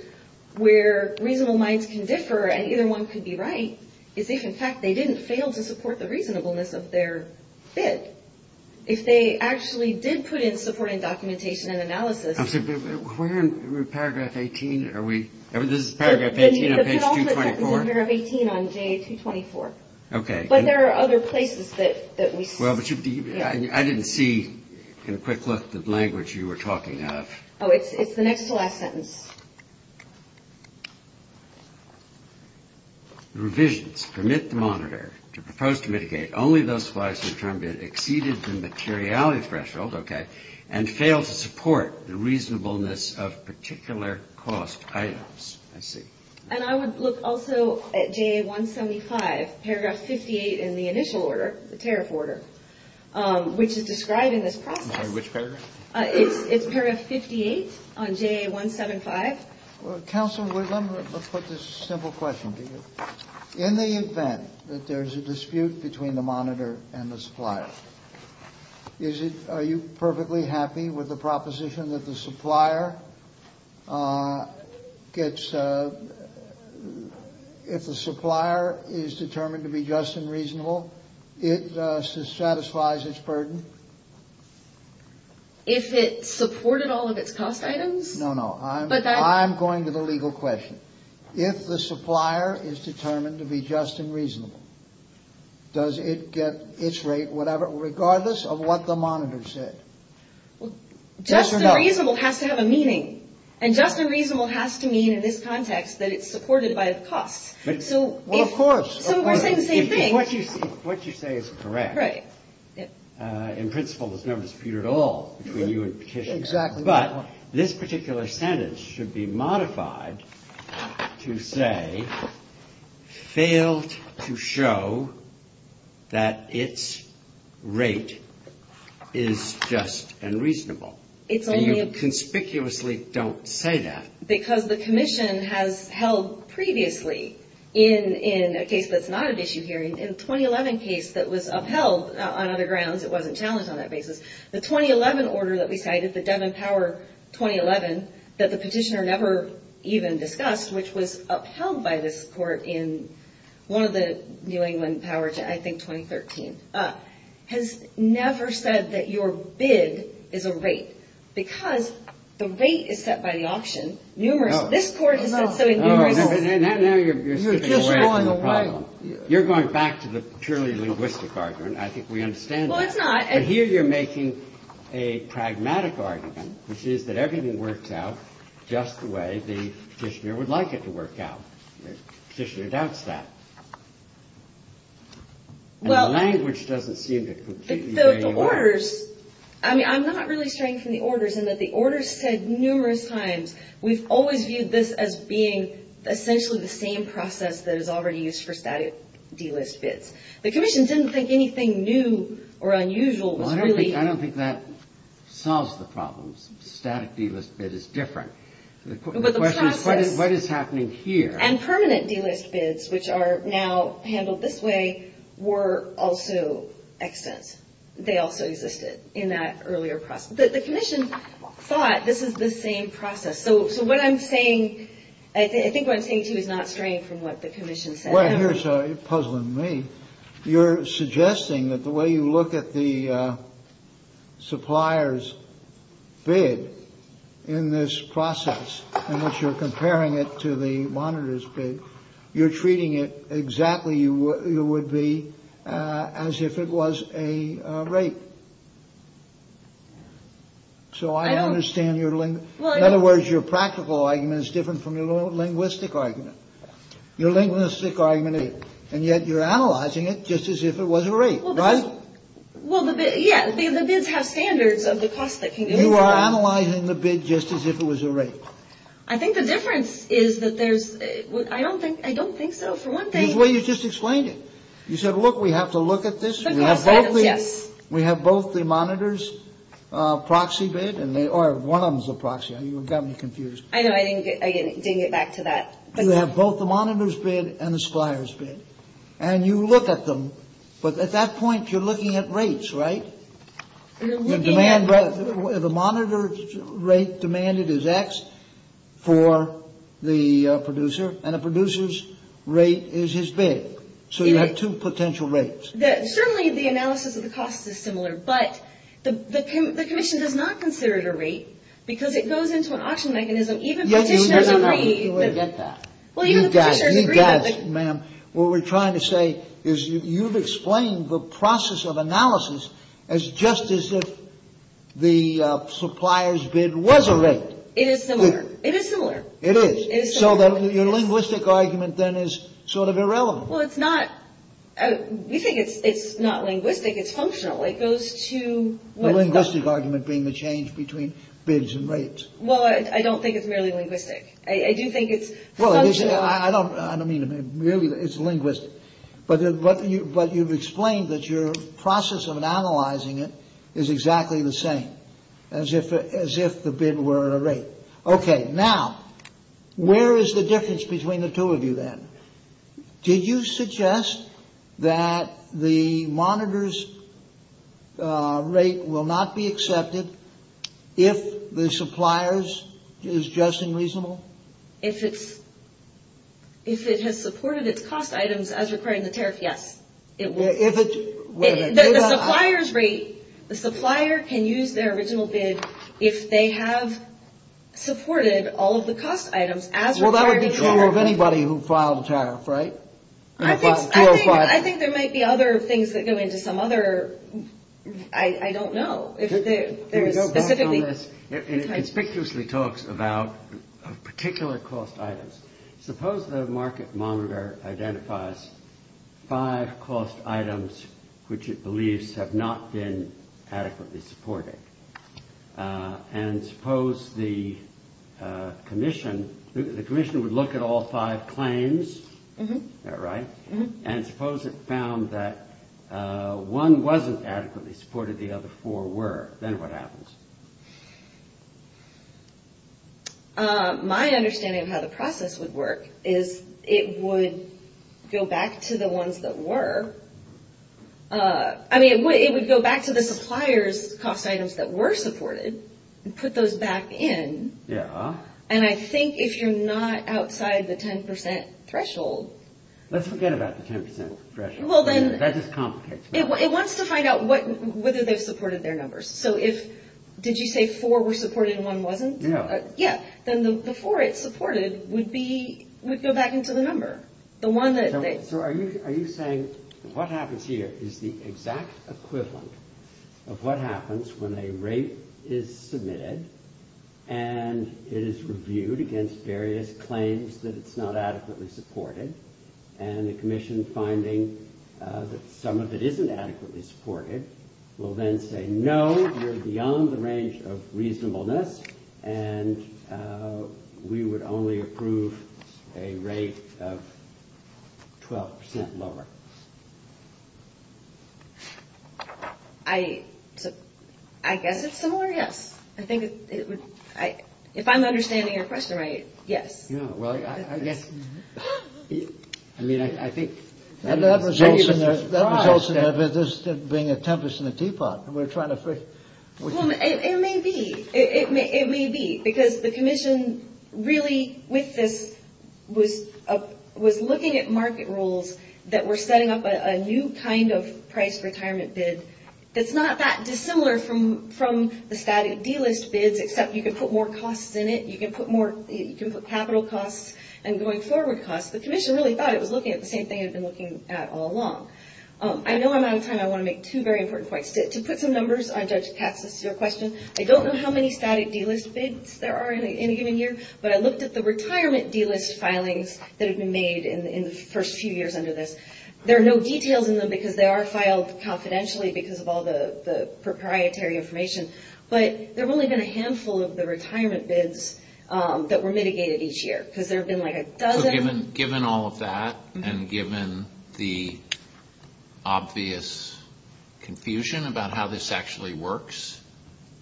where reasonable minds can differ and either one could be right is if in fact they didn't fail to support the reasonableness of their bid. If they actually did put in supporting documentation and analysis – Where in paragraph 18 are we? This is paragraph 18 of page 224. It's in paragraph 18 on page 224. Okay. But there are other places that we – Well, but you – I didn't see in a quick look the language you were talking of. Oh, it's the next to last sentence. The revisions permit the monitor to propose to mitigate only those supplies that exceeded the materiality threshold and failed to support the reasonableness of particular cost items. And I would look also at JA 175, paragraph 58 in the initial order, the tariff order, which is describing this process. Which paragraph? It's paragraph 58 on JA 175. Counsel, we're going to put this simple question to you. In the event that there's a dispute between the monitor and the supplier, are you perfectly happy with the proposition that the supplier gets – if the supplier is determined to be just and reasonable, it satisfies its burden? If it supported all of its cost items? No, no. I'm going to the legal question. If the supplier is determined to be just and reasonable, does it get its rate, whatever, regardless of what the monitor said? Just and reasonable has to have a meaning. And just and reasonable has to mean in this context that it's supported by its cost. Well, of course. So it's the same thing. What you say is correct. Right. In principle, there's no dispute at all between you and the petitioner. Exactly. But this particular standard should be modified to say, failed to show that its rate is just and reasonable. And you conspicuously don't say that. Because the commission has held previously in a case that's not a dispute hearing, in a 2011 case that was upheld on other grounds, it wasn't challenged on that basis, the 2011 order that we cited, the Devon Tower 2011, that the petitioner never even discussed, which was upheld by this court in one of the New England powers, I think, 2013, has never said that your bid is a rate. Because the rate is set by the auction. This court is not including the auction. You're going back to the purely linguistic argument. I think we understand that. Well, it's not. But here you're making a pragmatic argument, which is that everything works out just the way the petitioner would like it to work out. The petitioner doubts that. The language doesn't seem to completely agree with that. So the orders, I mean, I'm not really saying it's in the orders, in that the orders said numerous times we've always viewed this as being essentially the same process that is already used for static D-list bids. The commission didn't think anything new or unusual. Well, I don't think that solves the problem. Static D-list bid is different. The question is what is happening here. And permanent D-list bids, which are now handled this way, were also extant. They also existed in that earlier process. But the commission thought this was the same process. So what I'm saying, I think what I'm saying, too, is not strange from what the commission said. Well, here's a puzzle in me. You're suggesting that the way you look at the supplier's bid in this process, in which you're comparing it to the monitor's bid, you're treating it exactly as if it was a rate. So I understand your language. In other words, your practical argument is different from your linguistic argument. Your linguistic argument is different. And yet you're analyzing it just as if it was a rate. Right? Well, yeah. The bids have standards of the cost that you pay. You are analyzing the bid just as if it was a rate. I think the difference is that there's, I don't think so, for one thing. Well, you just explained it. You said, look, we have to look at this. We have both the monitor's proxy bid, or one of them's a proxy. You've got me confused. I know. I didn't get back to that. You have both the monitor's bid and the supplier's bid. And you look at them, but at that point you're looking at rates, right? The monitor's rate demanded is X for the producer, and the producer's rate is his bid. So you have two potential rates. Certainly the analysis of the cost is similar, but the commission does not consider it a rate because it goes into an auction mechanism. You got it. You got it, ma'am. What we're trying to say is you've explained the process of analysis as just as if the supplier's bid was a rate. It is similar. It is similar. It is. So then your linguistic argument then is sort of irrelevant. Well, it's not. We think it's not linguistic. It's functional. It goes to... The linguistic argument being the change between bids and rates. Well, I don't think it's really linguistic. I do think it's... Well, I don't mean to be... Really, it's linguistic. But you've explained that your process of analyzing it is exactly the same, as if the bid were a rate. Okay. Now, where is the difference between the two of you then? Did you suggest that the monitor's rate will not be accepted if the supplier's is just and reasonable? If it has supported its cost items as required in the tariff, yes. If it's... The supplier's rate... The supplier can use their original bid if they have supported all of the cost items as required... Well, that would be true of anybody who filed a tariff, right? I think there might be other things that go into some other... I don't know. There's no doubt on this. It conspicuously talks about particular cost items. Suppose the market monitor identifies five cost items which it believes have not been adequately supported. And suppose the commission... The commission would look at all five claims. Is that right? And suppose it found that one wasn't adequately supported, the other four were. Then what happens? My understanding of how the process would work is it would go back to the ones that were. I mean, it would go back to the supplier's cost items that were supported and put those back in. Yeah. And I think if you're not outside the 10% threshold... Let's forget about the 10% threshold. Well, then... That is complicated. It wants to find out whether they've supported their numbers. So if... Did you say four were supported and one wasn't? Yeah. Yes. Then the four it supported would go back into the number, the one that... So are you saying what happens here is the exact equivalent of what happens when a rate is submitted and it is reviewed against various claims that it's not adequately supported and the commission finding that some of it isn't adequately supported will then say, No, you're beyond the range of reasonableness and we would only approve a rate of 12% lower. I guess it's similar, yes. I think it would... If I'm understanding your question right, yes. Yeah, well, I guess... I mean, I think... That results in this being a tempest in a teapot and we're trying to... Well, it may be. It may be because the commission really with this was looking at market rules that were setting up a new kind of price retirement bid that's not that dissimilar from the static dealers' bids except you can put more costs in it, you can put capital costs and going forward costs. The commission really thought it was looking at the same thing it's been looking at all along. I know I'm out of time. I want to make two very important points. To put some numbers on Judge Katz's question, I don't know how many static dealers' bids there are in a given year but I looked at the retirement dealers' filings that have been made in the first few years under this. There are no details in them because they are filed confidentially because of all the proprietary information but there have only been a handful of the retirement bids that were mitigated each year because there have been like a dozen. Given all of that and given the obvious confusion about how this actually works,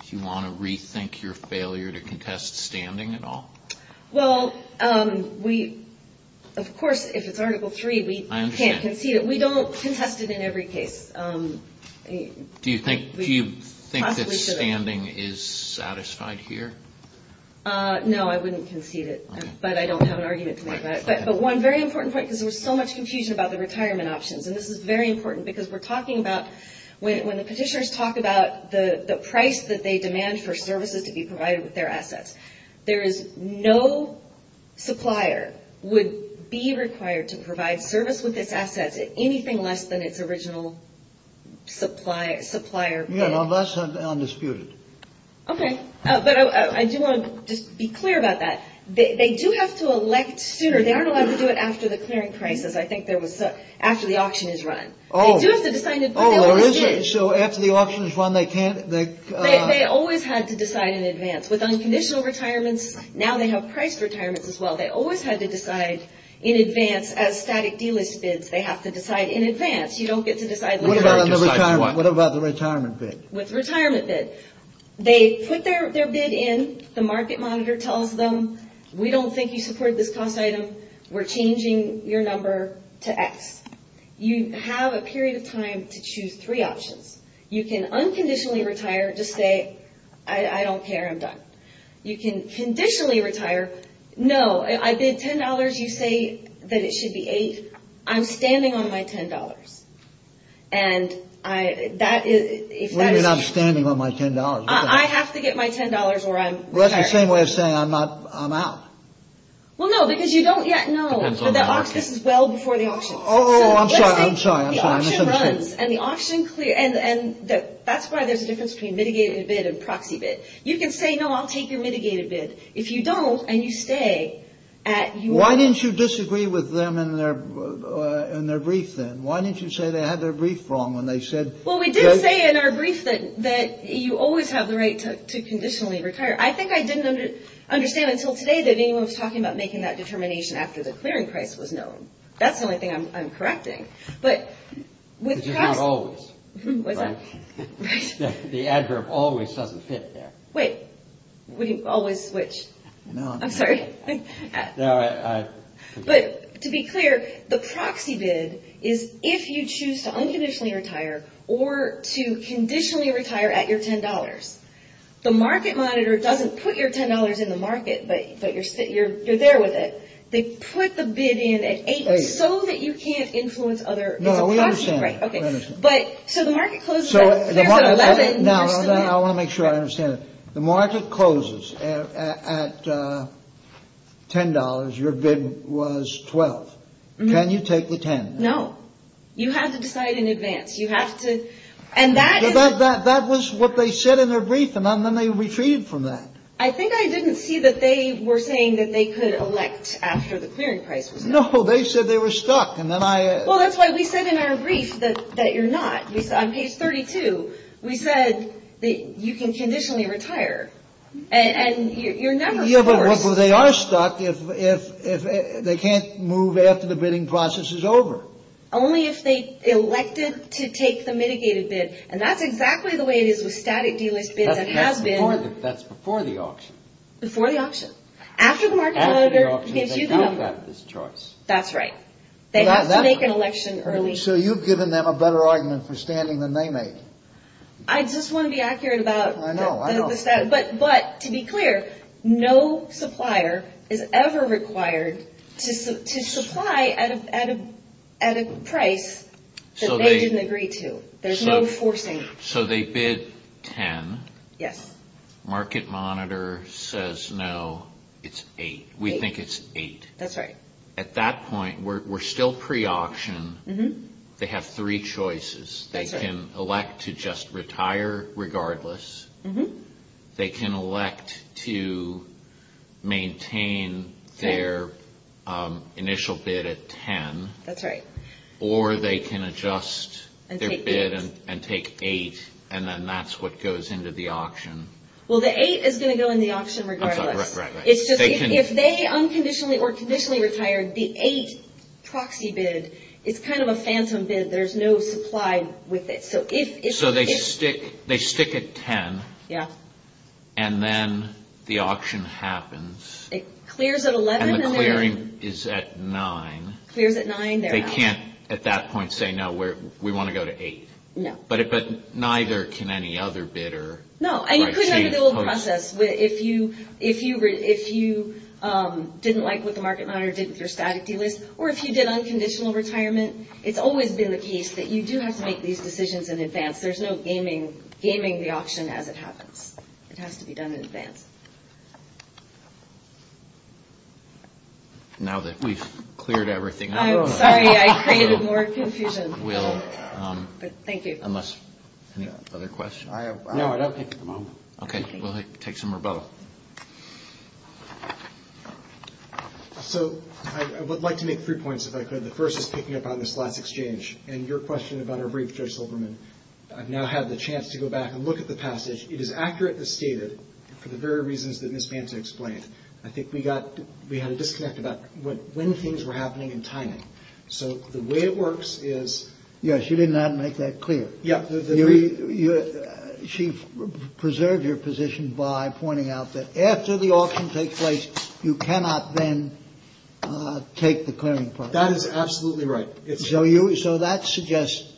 do you want to rethink your failure to contest standing at all? Well, of course, if it's Article 3, we can't concede it. We don't contest it in every case. Do you think that standing is satisfied here? No, I wouldn't concede it but I don't have an argument to make on it. But one very important point because there was so much confusion about the retirement options and this is very important because we're talking about when the petitioners talk about the price that they demand for services to be provided with their assets, there is no supplier would be required to provide service with its assets anything less than its original supplier bid. Yeah, well, that's undisputed. Okay. But I do want to just be clear about that. They do have to elect students. They aren't allowed to do it after the clearing crisis. I think they would say after the auction is run. Oh. They do have to decide in advance. So after the auction is run, they can't… They always have to decide in advance. With unconditional retirements, now they have price retirements as well. They always have to decide in advance. Out of static dealage bids, they have to decide in advance. You don't get to decide… What about the retirement bid? With retirement bids. They put their bid in. The market monitor tells them, we don't think you support this cost item. We're changing your number to X. You have a period of time to choose three options. You can unconditionally retire to say, I don't care. I'm done. You can conditionally retire, no, I bid $10. You say that it should be $8. I'm standing on my $10. And that is… Well, you're not standing on my $10. I have to get my $10 or I'm… Well, that's the same way of saying I'm out. Well, no, because you don't yet know. The auction is well before the auction. Oh, I'm sorry, I'm sorry, I'm sorry. The auction runs, and the auction… And that's why there's a difference between mitigated bid and proxy bid. You can say, no, I'll take your mitigated bid. If you don't, and you stay… Why didn't you disagree with them in their brief then? Why didn't you say they had their brief wrong when they said… Well, we did say in our brief that you always have the right to conditionally retire. I think I didn't understand until today that anyone was talking about making that determination after the clearing price was known. That's the only thing I'm correcting. But with proxy… Because it's not always, right? The adverb always doesn't fit there. Wait. Always which? I'm sorry. But to be clear, the proxy bid is if you choose to unconditionally retire or to conditionally retire at your $10. The market monitor doesn't put your $10 in the market, but you're there with it. They put the bid in at $8 so that you can't influence other… No, we understand that. Okay. But, so the market closes… No, I want to make sure I understand it. The market closes at $10. Your bid was $12. Can you take the $10? No. You have to decide in advance. You have to… And that is… That was what they said in their brief, and then they retreated from that. I think I didn't see that they were saying that they could elect after the clearing price was known. No, they said they were stuck, and then I… Well, that's why we said in our brief that you're not. On page 32, we said that you can conditionally retire, and you're not… Yeah, but they are stuck if they can't move after the bidding process is over. Only if they elected to take the mitigated bid, and that's exactly the way it is with static delist bids that have bids. That's before the auction. Before the auction. After the auction, they don't have this choice. That's right. They have to make an election early. And so you've given them a better argument for standing than they make. I just want to be accurate about… I know, I know. But to be clear, no supplier is ever required to supply at a price that they didn't agree to. There's no forcing. So they bid $10. Yes. Market Monitor says no, it's $8. We think it's $8. That's right. At that point, we're still pre-auction. They have three choices. They can elect to just retire regardless. They can elect to maintain their initial bid at $10. That's right. Or they can adjust their bid and take $8, and then that's what goes into the auction. Well, the $8 is going to go in the auction regardless. Right, right, right. If they unconditionally or conditionally retire, the $8 proxy bid is kind of a phantom bid. There's no supply with it. So they stick at $10. Yes. And then the auction happens. It clears at $11 million. And the clearing is at $9. It clears at $9. They can't at that point say, no, we want to go to $8. No. But neither can any other bidder. No. And you could have a little process. If you didn't like what the market monitor did with your staticy list, or if you did unconditional retirement, it's always been the case that you do have to make these decisions in advance. There's no gaming the auction as it happens. It has to be done in advance. Now that we've cleared everything up. I'm sorry. I created more confusion. Thank you. Any other questions? No, I don't think so. Okay. We'll take some rebuttal. So I would like to make three points, if I could. The first is picking up on Ms. Blatt's exchange. And your question about her brief, Joe Silverman. I've now had the chance to go back and look at the passage. It is accurately stated for the very reasons that Ms. Vance explained. I think we had a disconnect about when things were happening and timing. So the way it works is. Yeah, she did not make that clear. She preserved your position by pointing out that after the auction takes place, you cannot then take the clearing price. That is absolutely right. So that suggests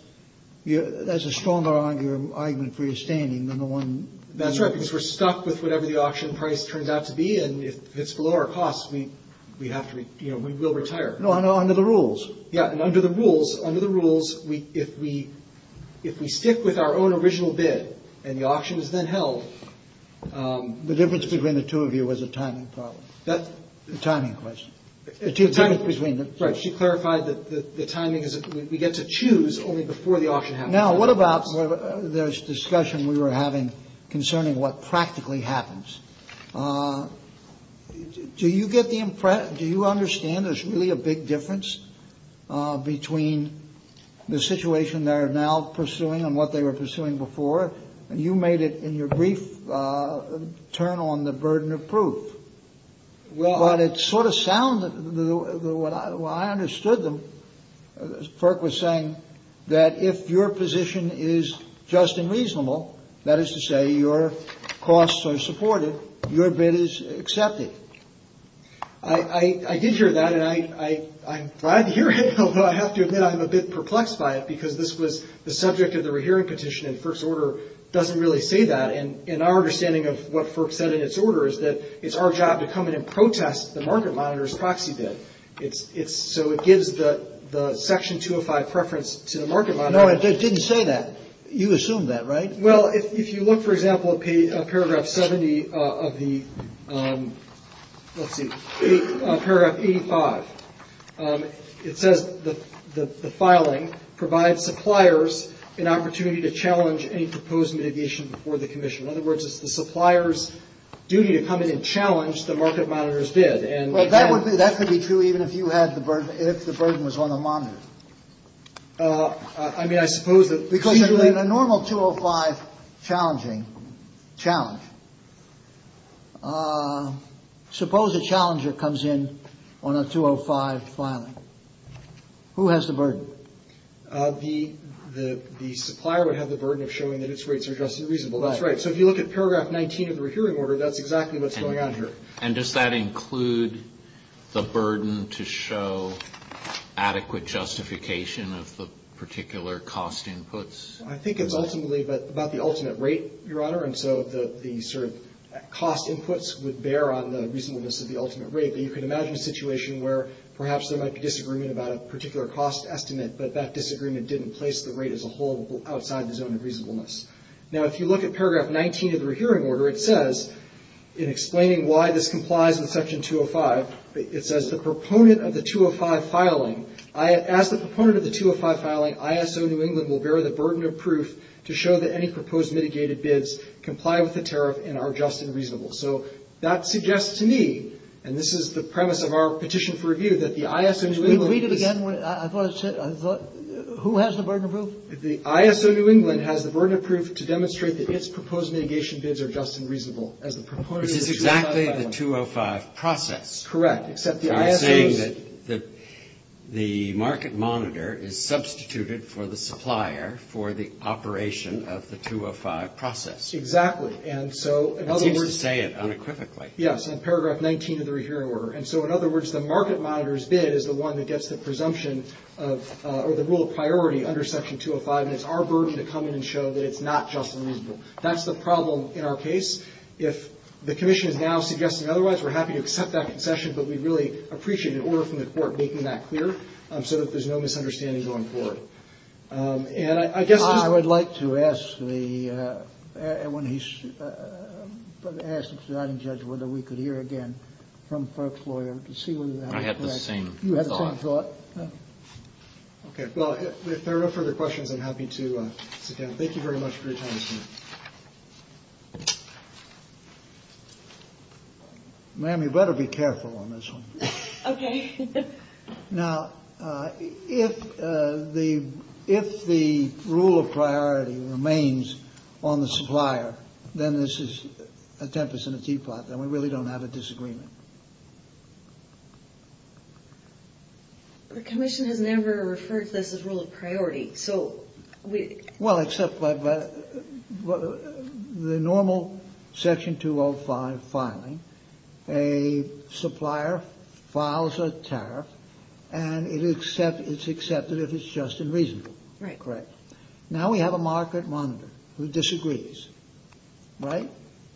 there's a stronger argument for your standing than the one. That's right. Because we're stuck with whatever the auction price turns out to be. And if it's below our costs, we will retire. Under the rules. Yeah. If we stick with our own original bid, and the auction is then held. The difference between the two of you was a timing problem. A timing question. She clarified that the timing is that we get to choose only before the auction happens. Now, what about this discussion we were having concerning what practically happens? Do you get the impression? Do you understand there's really a big difference between the situation they're now pursuing and what they were pursuing before? You made it in your brief turn on the burden of proof. Well. But it's sort of sound. I understood them. Ferk was saying that if your position is just and reasonable. That is to say your costs are supported. Your bid is accepted. I did hear that. And I'm glad to hear it. Although I have to admit I'm a bit perplexed by it. Because this was the subject of the rehearing petition. And Ferk's order doesn't really say that. And our understanding of what Ferk said in his order is that it's our job to come in and protest the market monitor's proxy bid. So it gives the section 205 preference to the market monitor. No, it didn't say that. You assumed that, right? Well, if you look, for example, at paragraph 70 of the, let's see, paragraph 85. It says that the filing provides suppliers an opportunity to challenge any proposed mitigation before the commission. In other words, it's the supplier's duty to come in and challenge the market monitor's bid. Well, that could be true even if you had the burden, if the burden was on the monitor. I mean, I suppose that. Because in a normal 205 challenge, suppose a challenger comes in on a 205 filing. Who has the burden? The supplier would have the burden of showing that its rates are just and reasonable. That's right. So if you look at paragraph 19 of the rehearing order, that's exactly what's going on here. And does that include the burden to show adequate justification of the particular cost inputs? I think it's ultimately about the ultimate rate, Your Honor. And so the sort of cost inputs would bear on the reasonableness of the ultimate rate. But you can imagine a situation where perhaps there might be disagreement about a particular cost estimate, but that disagreement didn't place the rate as a whole outside the zone of reasonableness. Now, if you look at paragraph 19 of the rehearing order, it says, in explaining why this complies with section 205, it says the proponent of the 205 filing, as the proponent of the 205 filing, ISO New England will bear the burden of proof to show that any proposed mitigated bids comply with the tariff and are just and reasonable. So that suggests to me, and this is the premise of our petition for review, that the ISO New England Read it again. The ISO New England has the burden of proof to demonstrate that its proposed mitigation bids are just and reasonable. It's exactly the 205 process. Correct, except the ISO New England Are saying that the market monitor is substituted for the supplier for the operation of the 205 process. Exactly, and so You would say it unequivocally. Yes, in paragraph 19 of the rehearing order. And so, in other words, the market monitor's bid is the one that gets the presumption of, or the rule of priority under section 205, and it's our burden to come in and show that it's not just and reasonable. That's the problem in our case. If the commission is now suggesting otherwise, we're happy to accept that concession, but we'd really appreciate an order from the court making that clear so that there's no misunderstandings on the floor. And I guess I would like to ask the, when he asks the surrounding judge whether we could hear again from Clark's lawyer. I have the same thought. You have the same thought? Okay, well, if there are no further questions, I'm happy to take them. Thank you very much for your time this evening. Ma'am, you better be careful on this one. Okay. Now, if the rule of priority remains on the supplier, then this is a tempest in a teapot, and we really don't have a disagreement. The commission has never referred to this as rule of priority, so we... Well, except for the normal section 205 filing. A supplier files a tariff, and it's accepted if it's just and reasonable. Right. Correct. Now we have a market monitor who disagrees, right?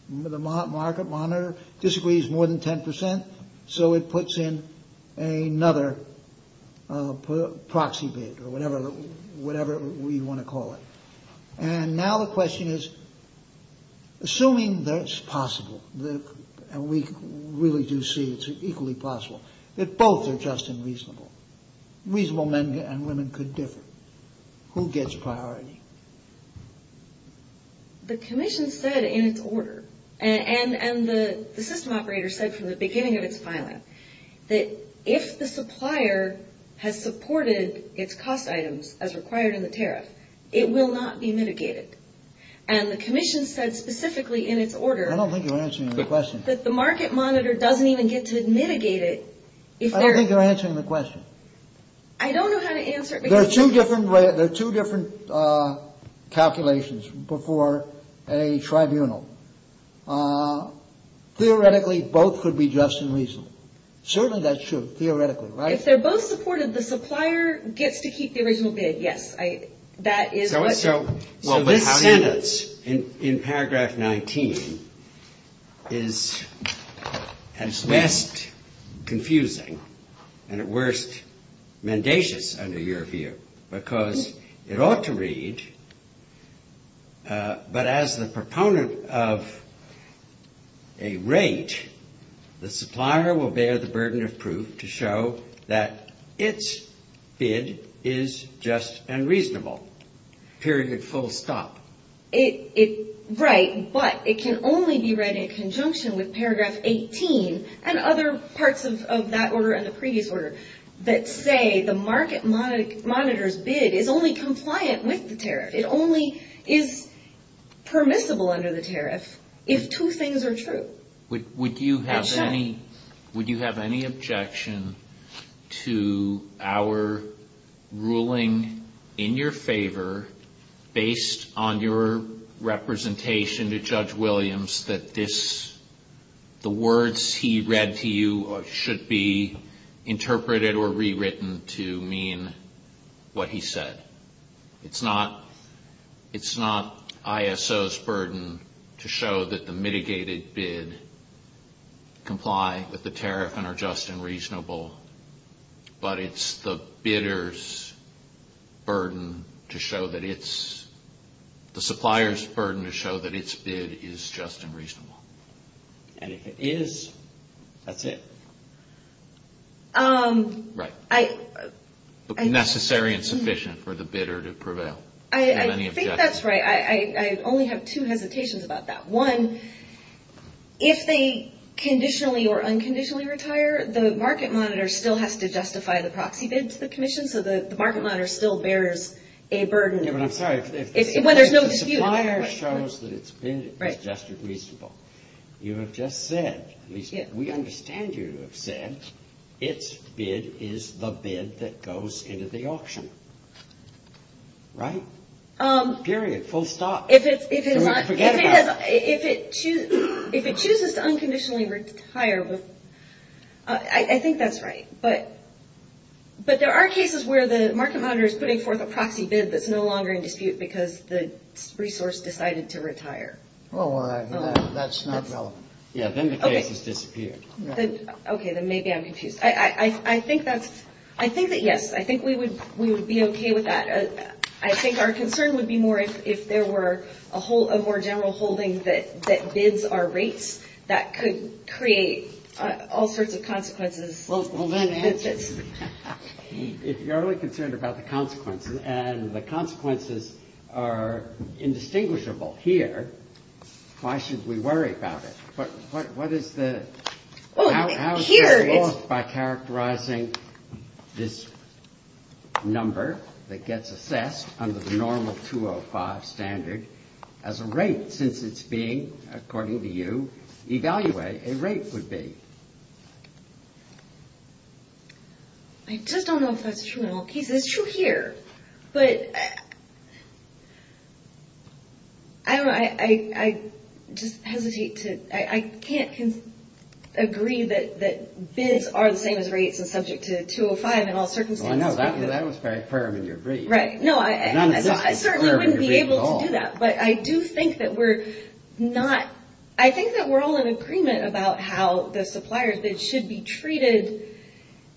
The market monitor disagrees more than 10 percent, so it puts in another proxy bid, or whatever we want to call it. And now the question is, assuming that it's possible, and we really do see it's equally possible, if both are just and reasonable, reasonable men and women could differ, who gets priority? The commission said in its order, and the system operator said from the beginning of its filing, that if the supplier has supported its cost items as required in the tariff, it will not be mitigated. And the commission said specifically in its order... I don't think you're answering the question. ...that the market monitor doesn't even get to mitigate it. I don't think you're answering the question. I don't know how to answer it. There are two different calculations before a tribunal. Theoretically, both could be just and reasonable. Certainly that's true, theoretically, right? If they're both supportive, the supplier gets to keep the original bid, yes. So this sentence in paragraph 19 is at best confusing, and at worst mendacious under your view, because it ought to read, but as the proponent of a rate, the supplier will bear the burden of proof to show that its bid is just and reasonable. Period, full stop. Right, but it can only be read in conjunction with paragraph 18 and other parts of that order and the previous order that say the market monitor's bid is only compliant with the tariff. It only is permissible under the tariff if two things are true. Would you have any objection to our ruling in your favor, based on your representation to Judge Williams, that the words he read to you should be interpreted or rewritten to mean what he said? It's not ISO's burden to show that the mitigated bid comply with the tariff and are just and reasonable, but it's the bidder's burden to show that it's, the supplier's burden to show that its bid is just and reasonable. And if it is, that's it. Right. Necessary and sufficient for the bidder to prevail. I think that's right. I only have two hesitations about that. One, if they conditionally or unconditionally retire, the market monitor still has to justify the proxy bid to the commission, so the market monitor still bears a burden when there's no dispute. The supplier shows that its bid is just and reasonable. You have just said, we understand you have said, its bid is the bid that goes into the auction. Right? Period. Full stop. Forget about it. If it chooses to unconditionally retire, I think that's right, but there are cases where the market monitor is putting forth a proxy bid that's no longer in dispute because the resource decided to retire. Well, that's not relevant. Yeah, then the case has disappeared. Okay, then maybe I'm confused. I think that, yes, I think we would be okay with that. I think our concern would be more if there were a more general holding that bids are rates that could create all sorts of consequences. Well, then, if you're only concerned about the consequences and the consequences are indistinguishable here, why should we worry about it? What is the – how do we go about characterizing this number that gets assessed under the normal 205 standard as a rate since it's being, according to you, evaluated a rate would be? I just don't know if that's true in all cases. It's true here, but I don't know. I just hesitate to – I can't agree that bids are the same as rates and subject to 205 in all circumstances. Well, I know. That was very clear in your brief. Right. No, I certainly couldn't be able to do that, but I do think that we're not – I think that we're all in agreement about how the supplier bid should be treated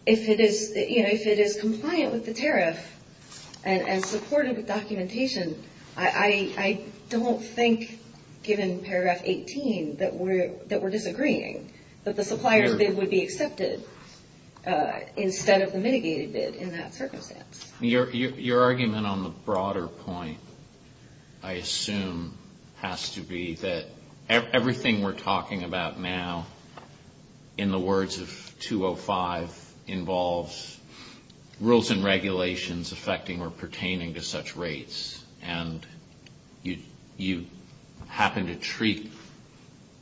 if it is – you know, if it is compliant with the tariff and supportive of documentation. I don't think, given paragraph 18, that we're disagreeing, that the supplier bid would be accepted instead of the mitigated bid in that circumstance. Your argument on the broader point, I assume, has to be that everything we're talking about now, in the words of 205, involves rules and regulations affecting or pertaining to such rates, and you happen to treat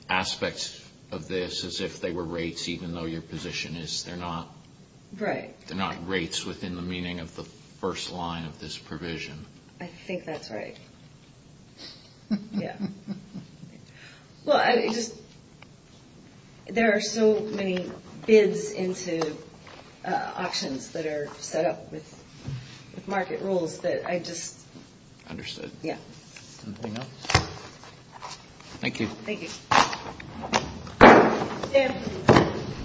aspects of this as if they were rates even though your position is they're not. Right. They're not rates within the meaning of the first line of this provision. I think that's right. Yeah. Well, I just – there are so many bids into options that are set up with market rules that I just – Understood. Yeah. Anything else? Thank you. Thank you.